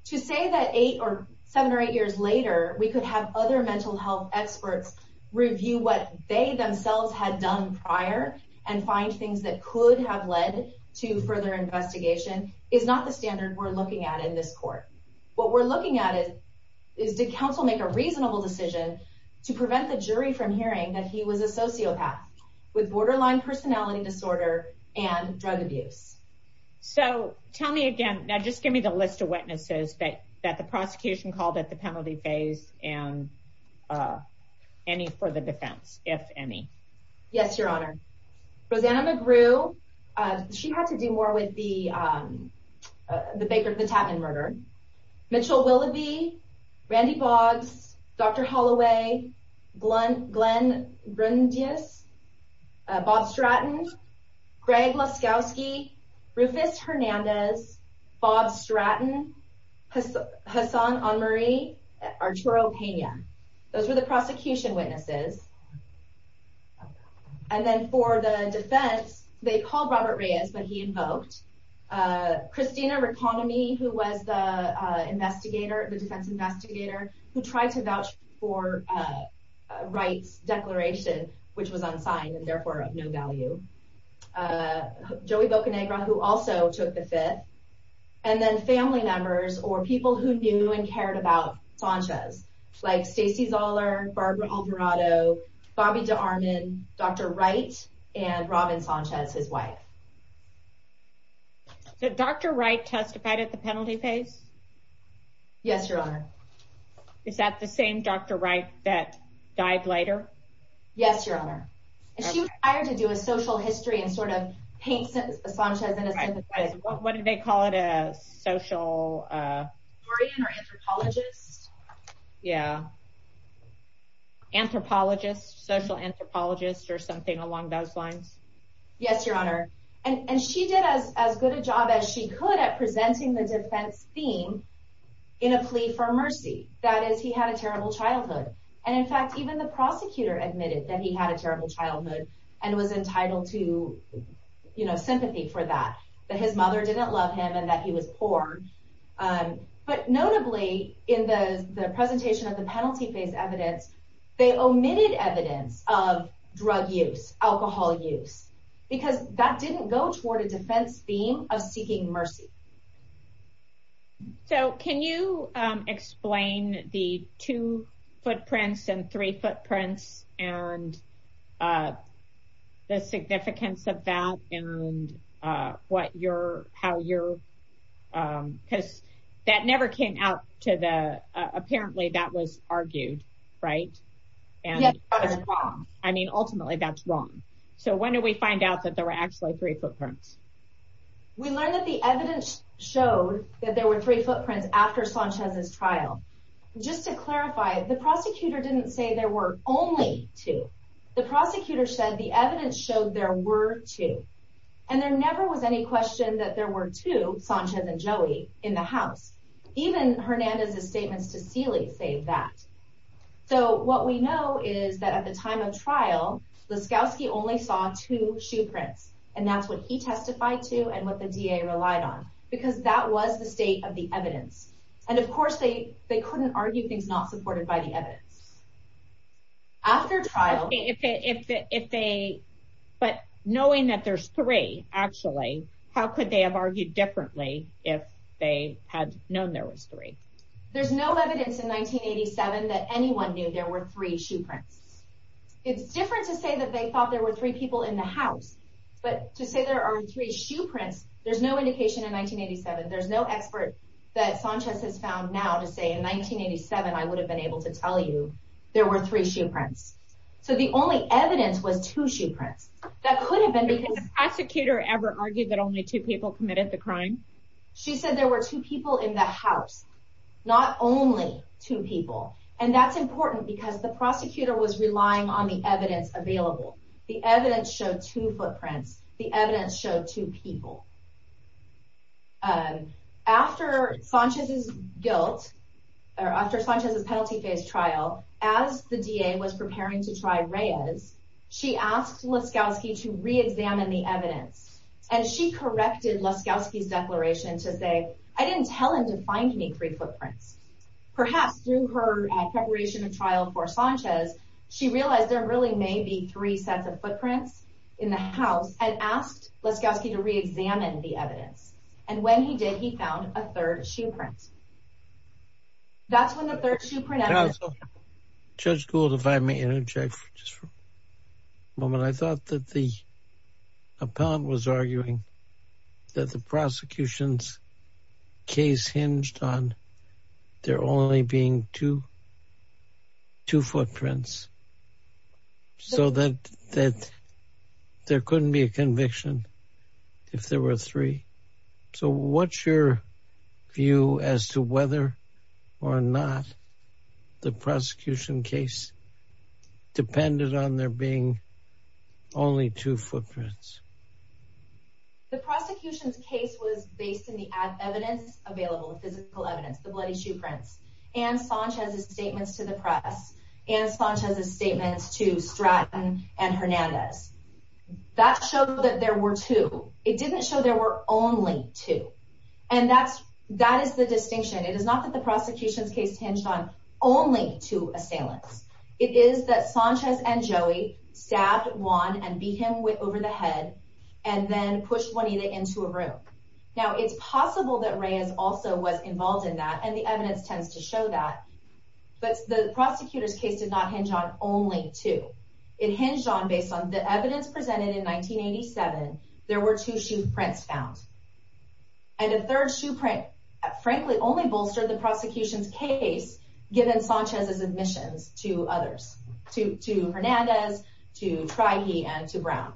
To say that eight or seven or eight years later we could have other mental health experts review what they themselves had done prior and find things that could have led to further investigation is not the standard we're looking at in this court. What we're looking at is, did counsel make a reasonable decision to prevent the jury from hearing that he was a sociopath with borderline personality disorder and drug abuse? So tell me again, now just give me the list of witnesses that the prosecution called at the penalty phase, and any for the defense, if any. Yes, Your Honor. Rosanna McGrew, she had to do more with the case of the Tatman murder. Mitchell Willoughby, Randy Boggs, Dr. Holloway, Glenn Rundius, Bob Stratton, Greg Laskowski, Rufus Hernandez, Bob Stratton, Hassan Anmari, Arturo Pena. Those were the prosecution witnesses. And then for the defense, they called Robert Reyes, but he invoked. Christina Reconomy, who was the investigator, the defense investigator, who tried to vouch for Wright's declaration, which was unsigned and therefore of no value. Joey Bocanegra, who also took the fit. And then family members or people who knew and cared about Ponchez, like Stacey Zoller, Barbara Alvarado, Bobby DeArmond, Dr. Wright, and Robin Ponchez, his wife. Did Dr. Wright testify at the penalty phase? Yes, Your Honor. Is that the same Dr. Wright that Yes, Your Honor. She was hired to do a social history and sort of paint Ponchez in a different way. What did they call it? A social historian or anthropologist? Yeah. Anthropologist, social anthropologist or something along those lines. Yes, Your Honor. And she did as good a job as she could at presenting the defense scene in a plea for mercy. That is, he had a terrible childhood. And in fact, even the prosecutor admitted that he had a terrible childhood and was entitled to, you know, sympathy for that, that his mother didn't love him and that he was poor. But notably in the presentation of the penalty phase evidence, they omitted evidence of drug use, alcohol use, because that didn't go toward a defense theme of seeking mercy. So, can you explain the two footprints and three footprints and the significance of that and what your, how your, because that never came out to the, apparently that was argued, right? Yes, but it's wrong. I mean, ultimately that's wrong. So, when did we find out that there were three footprints? We learned that the evidence shows that there were three footprints after Sanchez's trial. Just to clarify, the prosecutor didn't say there were only two. The prosecutor said the evidence showed there were two. And there never was any question that there were two, Sanchez and Joey, in the house. Even Hernandez's statement to Seeley says that. So, what we know is that at the time of trial, Laskowski only saw two shoe prints. And that's what he testified to and what the DA relied on, because that was the state of the evidence. And, of course, they couldn't argue things not supported by the evidence. After trial. If they, but knowing that there's three, actually, how could they have argued differently if they had known there was three? There's no evidence in 1987 that anyone knew there were three shoe prints. It's different to say that they thought there were three people in the house, but to say there are three shoe prints, there's no indication in 1987. There's no expert that Sanchez has found now to say in 1987, I would have been able to tell you there were three shoe prints. So, the only evidence was two shoe prints. That could have been because the prosecutor ever argued that only two people committed the crime. She said there were two people in that house. Not only two people. And that's important because the prosecutor was relying on the evidence available. The evidence showed two footprints. The evidence showed two people. After Sanchez's guilt, or after Sanchez's penalty-based trial, as the DA was preparing to try Reyes, she asked Laskowski to re-examine the evidence. And she corrected Laskowski's declaration to say, I didn't tell him to find me three footprints. Perhaps, during her preparation and trial for Sanchez, she realized there really may be three sets of footprints in the house, and asked Laskowski to re-examine the evidence. And when he did, he found a third shoe print. That's when the third shoe print evidence was found. Judge Gould, if I may interject for just a moment. I thought that the appellant was arguing that the prosecution's case hinged on there only being two footprints. So, that there couldn't be a conviction if there were three. So, what's your view as to whether or not the prosecution case depended on there being only two footprints? The prosecution's case was based in the evidence available, physical evidence, the bloody shoe prints. And Sanchez's statements to the press. And Sanchez's statements to Stratton and Hernandez. That showed that there were two. It didn't show there were only two. And that's, that is the distinction. It is not that the prosecution's case hinged on only two assailants. It is that Sanchez and Joey stabbed Juan and beat him over the head, and then pushed Juanita into a room. Now, it's possible that Reyes also was involved in that, and the evidence tends to show that. But the prosecutor's case did not hinge on only two. It hinged on based on the evidence presented in 1987, there were two shoe prints found. And the third shoe print, frankly, only bolstered the prosecution's case given Sanchez's admission to others. To Hernandez, to Trahi, and to Brown.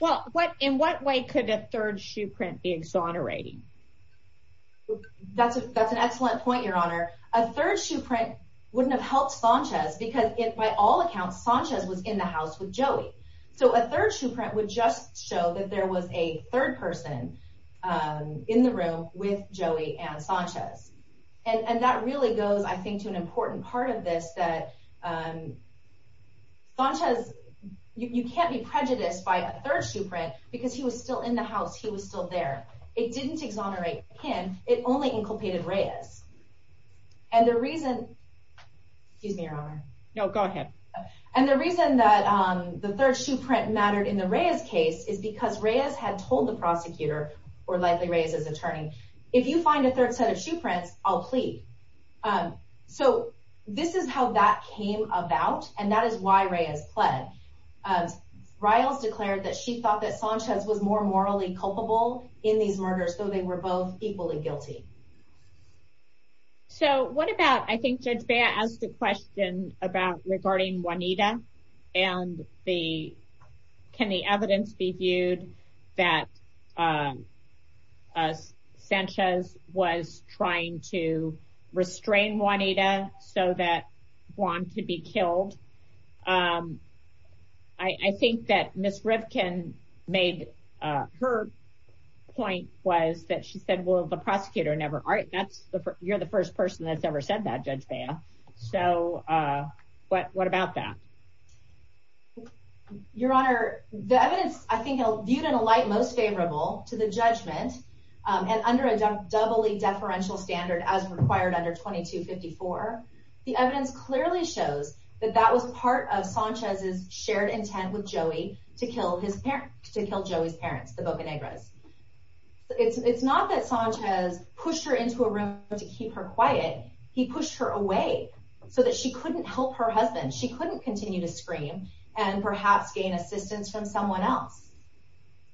Well, what, in what way could a third shoe print exonerating? That's an excellent point, your honor. A third shoe print wouldn't have helped Sanchez because by all accounts, Sanchez was in the house with Joey. So a third shoe print would just show that there was a third person in the room with Joey and Sanchez. And that really goes, I think, to an important part of this, that Sanchez, you can't be prejudiced by a third shoe print because he was still in the house. He was still there. It didn't exonerate him. It only inculcated Reyes. And the reason, excuse me, your honor. No, go ahead. And the reason that the third shoe print mattered in the Reyes case is because Reyes had told the prosecutor, or Leslie Reyes's attorney, if you find a third set of shoe prints, I'll plead. So this is how that came about, and that is why Reyes pled. Reyes declared that she thought that Sanchez was more morally culpable in these murders. So they were both equally guilty. So what about, I think that they asked the question about regarding Juanita and the, can the evidence be viewed that Sanchez was trying to restrain Juanita so that Juan could be killed? And I think that Ms. Ripken made, her point was that she said, well, the prosecutor never, you're the first person that's ever said that, Judge Bail. So what about that? Your honor, the evidence, I think, is viewed in a light most favorable to the judgment and under a doubly deferential standard as required under 2254. The evidence clearly shows that that was part of Sanchez's shared intent with Joey to kill his parents, to kill Joey's parents, the Boca Negras. It's not that Sanchez pushed her into a room to keep her quiet, he pushed her away so that she couldn't help her husband. She couldn't continue to scream and perhaps gain assistance from someone else.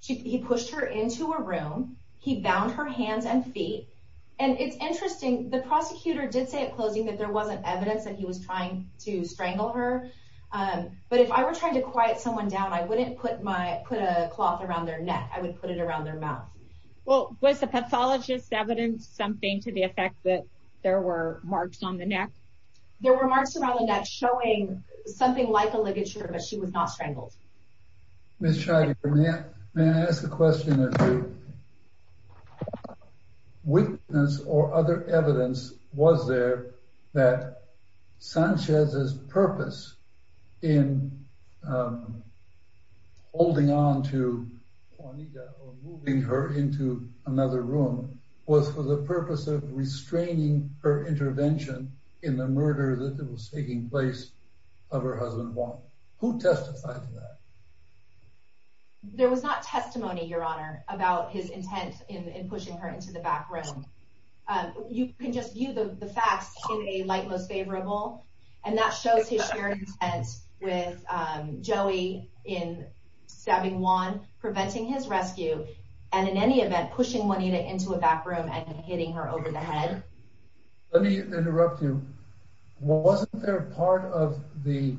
He pushed her into a room, he bound her hands and feet, and it's interesting, the prosecutor did say at closing that there wasn't evidence that he was trying to strangle her. But if I were trying to quiet someone down, I wouldn't put a cloth around their neck, I would put it around their mouth. Well, was the pathologist's evidence something to the effect that there were marks on the neck? There were marks around the neck showing something like a ligature, but she was not strangled. Ms. Scheider, may I ask a question of you? Witness or other evidence was there that Sanchez's purpose in holding on to Juanita or moving her into another room was for the purpose of restraining her intervention in the murder that was taking place of her husband Juan. Who testified to that? There was not testimony, Your Honor, about his intent in pushing her into the back room. You can just view the facts in a light-mode favorable, and that shows his very intent with Joey in stabbing Juan, preventing his rescue, and in any event pushing Juanita into a back room and hitting her over the head. Let me interrupt you. Well, wasn't there a part of the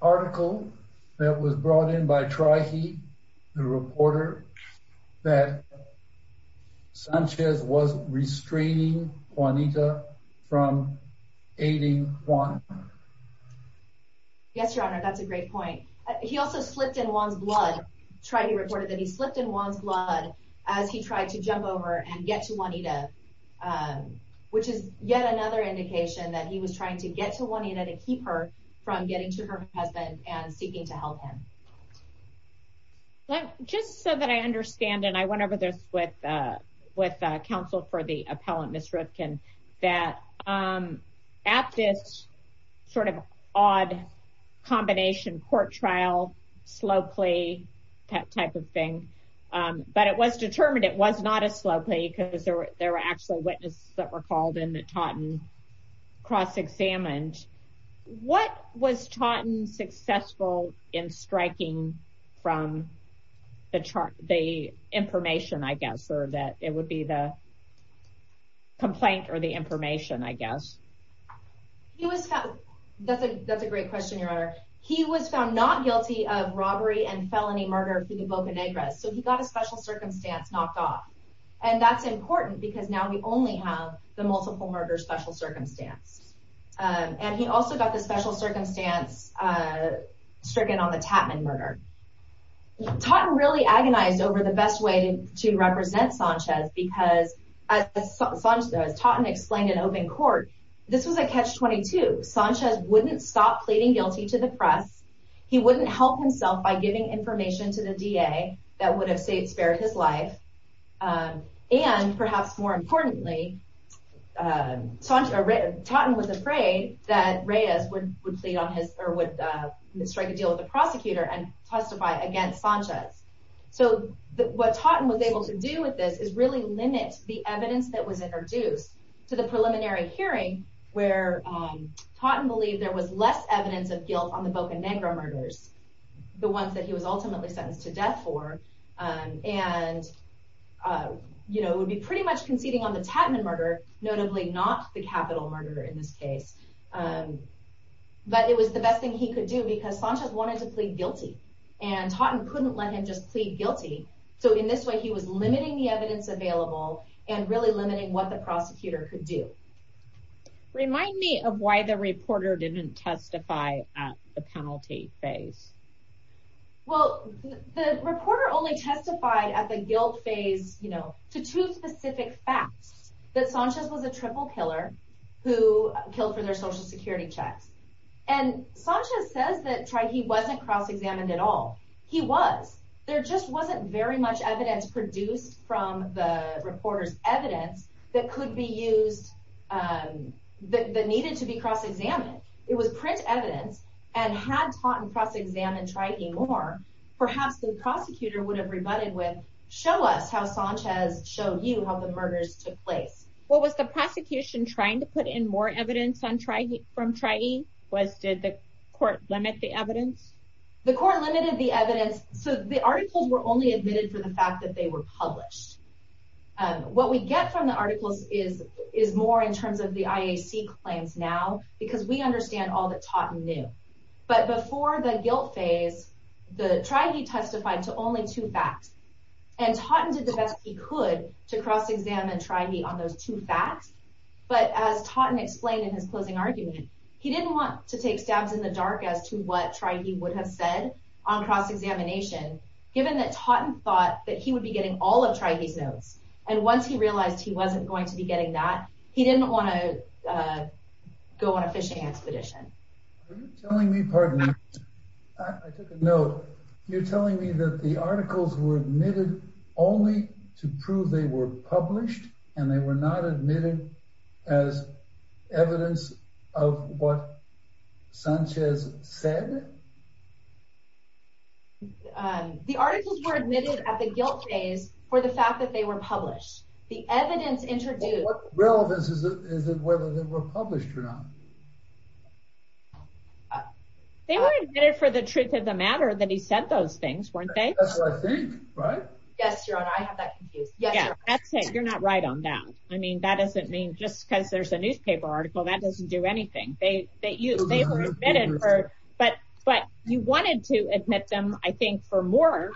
article that was brought in by Triheat, the reporter, that Sanchez was restraining Juanita from aiding Juan? Yes, Your Honor, that's a great point. He also slipped in Juan's blood. Triheat reported that he slipped in Juan's blood as he tried to jump over and get to Juanita, which is yet another indication that he was trying to get to Juanita to keep her from getting to her husband and seeking to help him. Just so that I understand, and I went over this with counsel for the appellant, Ms. Rootkin, that at this sort of odd combination court trial, slow plea, that type of thing, but it was determined it was not a slow plea because there were actual witnesses that were called into Taunton cross-examined. What was Taunton successful in striking from the information, I guess, or that it would be the complaint or the information, I guess? That's a great question, Your Honor. He was found not guilty of robbery and felony murder to the broken address, so he got a special circumstance knocked off, and that's important because now we only have the multiple murder special circumstance. And he also got the special circumstance stricken on the Tatman murder. Taunton really agonized over the best way to represent Sanchez because, as Taunton explained in open court, this was a catch-22. Sanchez wouldn't stop pleading guilty to the press. He wouldn't help himself by giving information to the DA that would have saved, spared his life, and perhaps more importantly, Taunton was afraid that Reyes would plead on his, or would strike a deal with the prosecutor and testify against Sanchez. So what Taunton was able to do with this is really limit the evidence that was ever due to the preliminary hearing where Taunton believed there was less evidence of guilt on the Boca Negra murders, the ones that he was ultimately sentenced to death for, and, you know, would be pretty much conceding on the Tatman murder, notably not the capital murder in this case. But it was the best thing he could do because Sanchez wanted to plead guilty and Taunton couldn't let him just plead guilty, so in this way he was limiting the evidence available and really limiting what the prosecutor could do. Remind me of why the reporter didn't testify at the penalty phase. Well, the reporter only testified at the guilt phase, you know, to two specific facts. That Sanchez was a triple killer who killed for their social security checks, and Sanchez says that he wasn't cross-examined at all. He was. There just wasn't very much evidence produced from the reporter's evidence that could be used, that needed to be cross-examined. It was print evidence, and had Taunton cross-examined Trahi more, perhaps the prosecutor would have rebutted with, show us how Sanchez showed you how the murders took place. What was the prosecution trying to put in more evidence from Trahi? Did the court limit the evidence? The court limited the evidence, so the articles were only admitted for the fact that they were published. What we get from the articles is more in terms of the IAC claims now, because we understand all that Taunton knew, but before the guilt phase, Trahi testified to only two facts, and Taunton did the best he could to cross-examine Trahi on those two facts, but as Taunton explained in his closing argument, he didn't want to take stabs in the dark as to what Trahi would have said on cross-examination, given that Taunton thought that he would be getting all of Trahi's notes, and once he realized he wasn't going to be getting that, he didn't want to go on a fish expedition. Are you telling me, pardon me, I took a note, you're telling me that the articles were admitted only to prove they were published, and they were not admitted as evidence of what Sanchez said? The articles were admitted at the guilt phase for the fact that they were published. The evidence interviewed... What relevance is it whether they were published or not? They were admitted for the truth of the matter that he said those things, weren't they? That's what I think, right? Yes, you're not right on that. I mean, that doesn't mean just because there's a newspaper article, that doesn't do anything. But you wanted to admit them, I think, for more,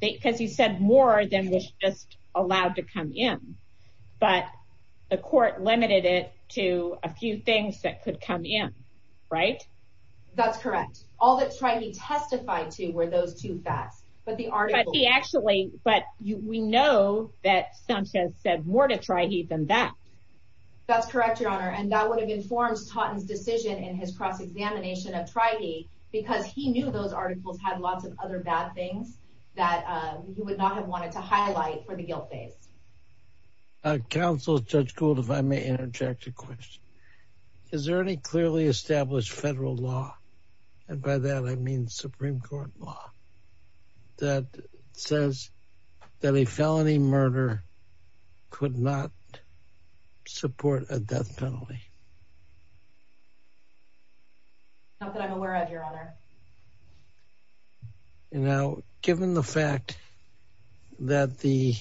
because he said more than was just allowed to come in. But the court limited it to a few things that could come in, right? That's correct. All that Trahi testified to were those two facts, but the article... Actually, but we know that Sanchez said more to Trahi than that. That's correct, Your Honor, and that would have informed Taunton's decision in his examination of Trahi, because he knew those articles had lots of other bad things that he would not have wanted to highlight for the guilt phase. Counsel, Judge Gould, if I may interject a question. Is there any clearly established federal law, and by that I mean Supreme Court law, that says that a felony murder could not support a death penalty? Not that I'm aware of, Your Honor. Now, given the fact that the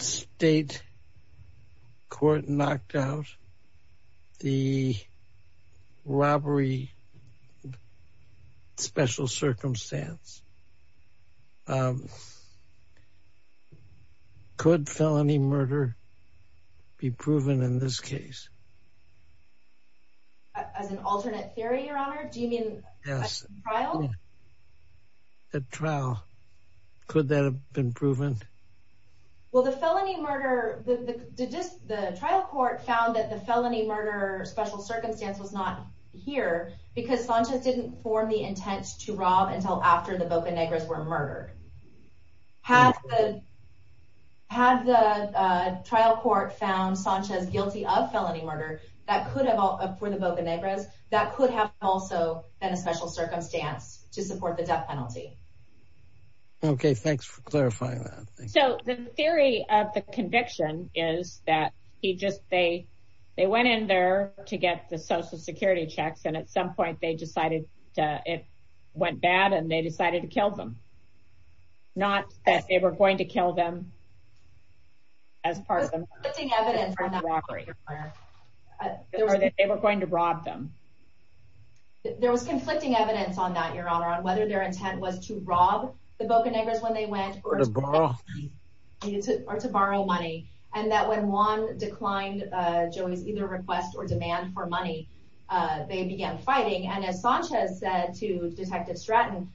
state court knocked out the robbery special circumstance, could felony murder be proven in this case? As an alternate theory, Your Honor? Do you mean at trial? At trial. Could that have been proven? Well, the felony murder... The trial court found that the felony murder special circumstance was not here, because Sanchez didn't form the intent to rob until after the Boca Negras were murdered. Had the trial court found Sanchez guilty of felony murder for the Boca Negras, that could have also been a special circumstance to support the death penalty. Okay, thanks for clarifying that. So, the theory of the conviction is that he just... They went in there to get the social security checks, and at some point they decided it went bad, and they decided to kill them. Not that they were going to kill them as part of them. They were going to rob them. There was conflicting evidence on that, Your Honor, on whether their intent was to rob the Boca Negras when they went, or to borrow money. And that when Juan declined Joey's either request or demand for money, they began fighting. And as Sanchez said to Detective Stratton,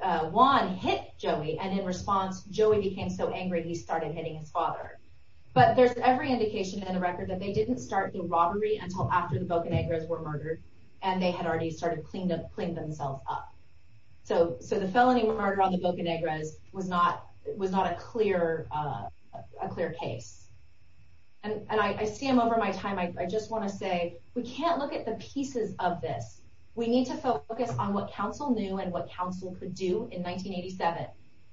Juan hit Joey, and in response, Joey became so angry that he started hitting his father. But there's every indication in the record that they didn't start the robbery until after the Boca Negras were murdered, and they had already started cleaning themselves up. So, the felony murder on the Boca Negras was not a clear case. And I stand over my time. I just want to say, we can't look at the pieces of this. We need to focus on what counsel knew and what counsel could do in 1987.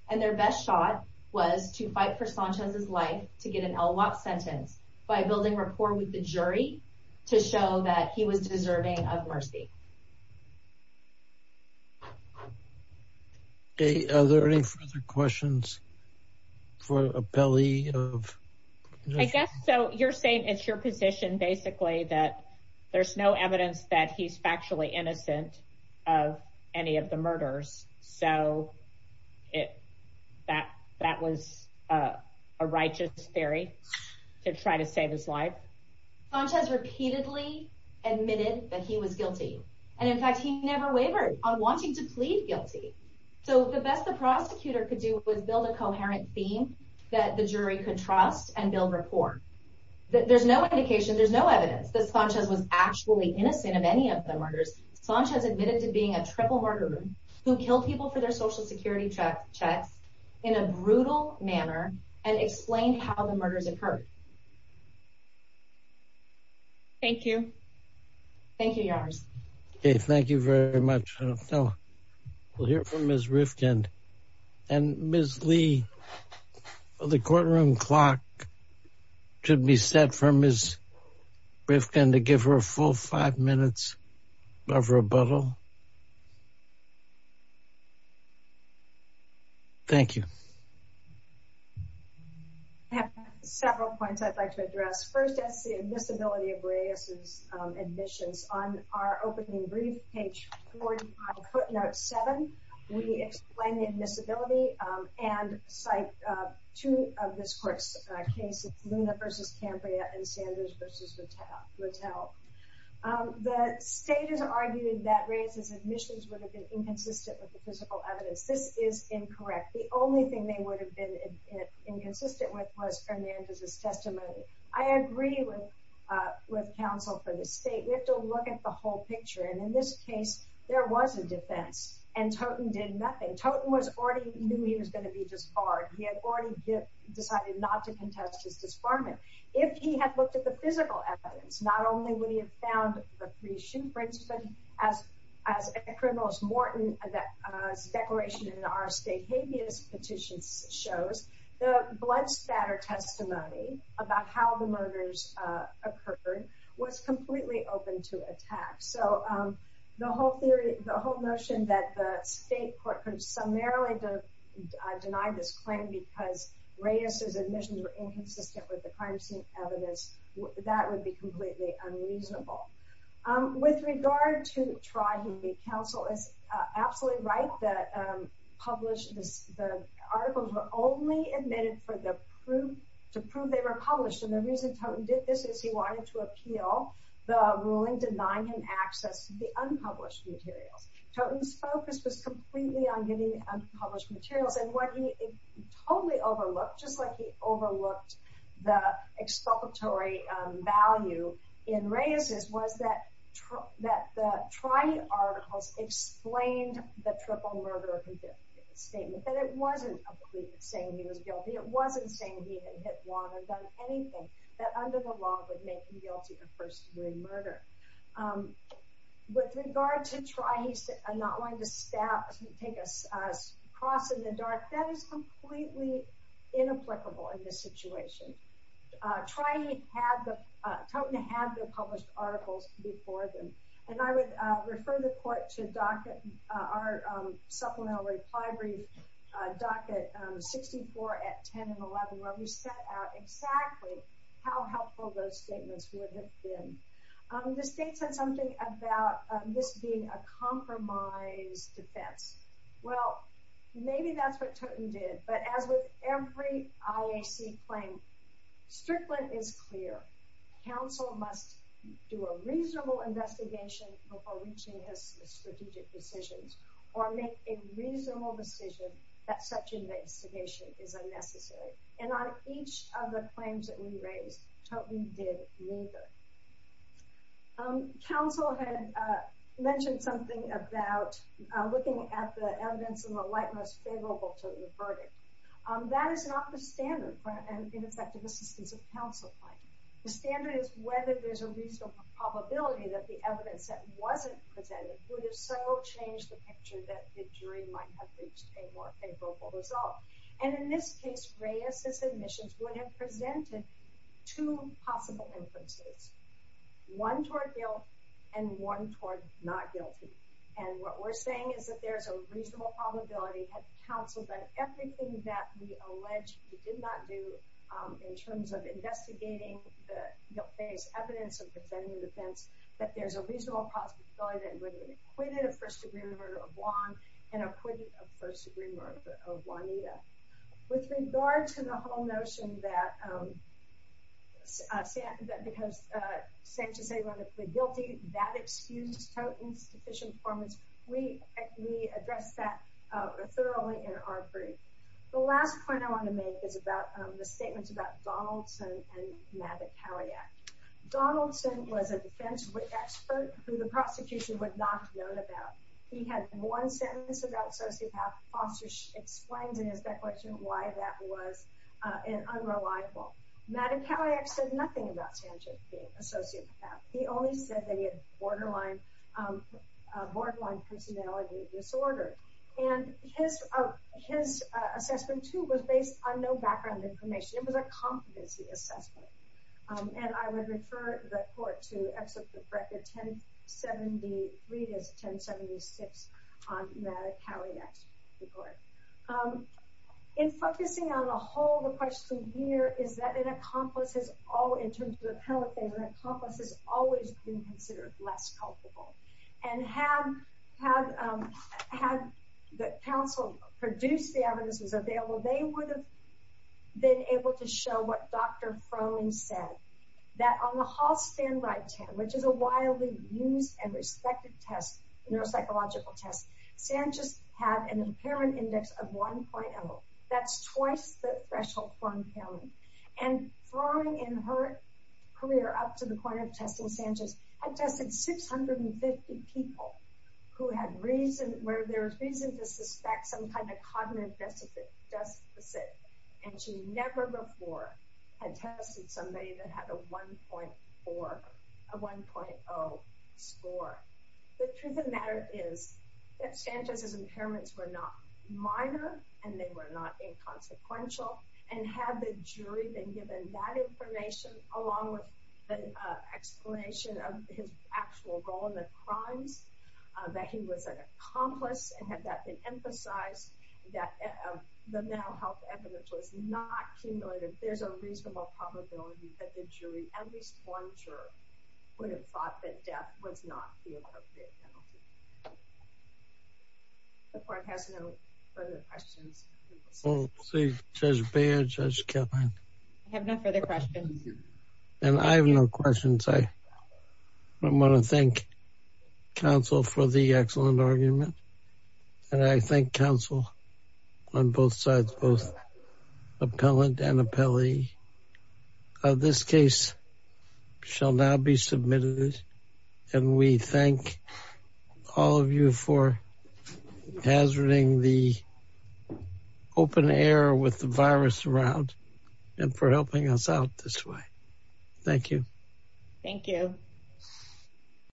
And their best shot was to fight for Sanchez's life to get an LWAT sentence by building reform with the jury to show that he was deserving of mercy. Okay. Are there any further questions for Appelli? I guess so. You're saying it's your position, basically, that there's no evidence that he's factually innocent of any of the murders. So, that was a righteous theory to try to save his life? Sanchez repeatedly admitted that he was guilty. And, in fact, he never wavered on wanting to plead guilty. So, the best the prosecutor could do was build a coherent theme that the jury could trust and build reform. There's no indication, there's no evidence that Sanchez was actually innocent of any of the murders. Sanchez admitted to being a trickle murderer who killed people for their Social Security checks in a brutal manner and explained how the murders occurred. Okay. Thank you. Thank you, yours. Okay. Thank you very much, Appelli. We'll hear from Ms. Rifkind. And, Ms. Lee, the courtroom clock should be set for Ms. Rifkind to give her a full five minutes of rebuttal. Thank you. I have several points I'd like to address. First, that's the admissibility of Reyes's admissions. On our opening brief, page 45, footnote 7, we explain the admissibility and cite two of this court's cases, Luna v. Cambria and Sanders v. Rattel. The state has argued that Reyes's admissions would have been inconsistent with the principal evidence. This is incorrect. The only thing they would have been inconsistent with was Fernandez's testimony. I agree with counsel for the state. We have to look at the whole picture. And in this case, there was a defense and Toton did nothing. Toton was already knew he was going to be disbarred. He had already decided not to contest his disbarment. If he had looked at the physical evidence, not only would it have been inconsistent with the principal evidence, it would have been completely unreasonable. With regard to tribunal counsel, it's absolutely right that the articles were only admitted to prove they were published. And the reason Toton did this is he wanted to appeal the ruling denying him access to the unpublished material. Toton's focus was completely on getting unpublished material. The article explained the triple murder. It wasn't saying he was guilty. It wasn't saying he had hit one or done anything that under the law would make him guilty of first degree murder. With regard to trying to not let the staff take a cross in the dark, that is completely inapplicable in this situation. Toton had the published articles before them. And I would refer the court to our supplementary docket 64 at 10 and 11 where we set out exactly how helpful those statements would have been. The state said something about this being a compromised defense. Well, maybe that's what Toton did. But as with every IAC claim, Strickland is clear. Counsel must do a reasonable investigation before reaching his strategic decisions or make a reasonable decision that such an investigation is unnecessary. And on each of the claims that we raised, Toton did neither. Counsel had mentioned something about looking at the evidence in the light most favorable to the verdict. That is not the standard for an ineffectiveness of counsel claim. The standard is whether there's a reasonable probability that the evidence that wasn't presented would have so changed the picture that the jury might have a more favorable result. And in this case, RAIA submissions would have presented two possible instances. One toward guilt and one toward not guilty. And what we're saying is that there's a reasonable probability that counsel did everything that we allege he did not do in terms of investigating the evidence and presenting the defense, that there's a reasonable probability that he would have acquitted a first-degree murder of Juan and acquitted a first-degree murder of Juanita. With regards to the whole notion that because Sanchez-Aguilar was guilty, that excused Toton's sufficient performance, we address that thoroughly in our brief. The last point I want to make is about the statements about Donaldson and Mavet-Tarriac. Donaldson was a defense expert who the prosecution would not have known about. He had one sentence about associate tax sponsors explained in his declaration why that was unreliable. Mavet-Tarriac said nothing about Sanchez being associate tax. He only said that he had borderline personality disorder. And his assessment, too, was based on no background information. It was a competency assessment. And I would refer the court to Exodus of Record 1073 to 1076 on Mavet-Tarriac's report. In focusing on the whole, the question here is that it accomplishes all, in terms of the penalty statement, it accomplishes always being considered less culpable. And had the test. Sanchez had an apparent index of 1.0. That's twice the threshold. And following in her career up to the point of testing Sanchez, I've tested 650 people who had reason, where there's some kind of cognitive deficit, and she never before had tested somebody that had a 1.0 score. The truth of the matter is that Sanchez's impairments were not minor, and they were not inconsequential. And had the jury been given that information, along with the explanation of his actual role in the crime, that he was an accomplice, and had that been emphasized, that the mental health evidence was not cumulative, there's a reasonable probability that the jury, as a sworn juror, would have thought that death was not the appropriate penalty. The court has no further questions. I have no questions. I want to thank counsel for the excellent argument. And I thank counsel on both sides, both appellant and appellee. This case shall now be submitted. And we thank all of you for hazarding the open air with the virus around, and for helping us out this way. Thank you. Thank you.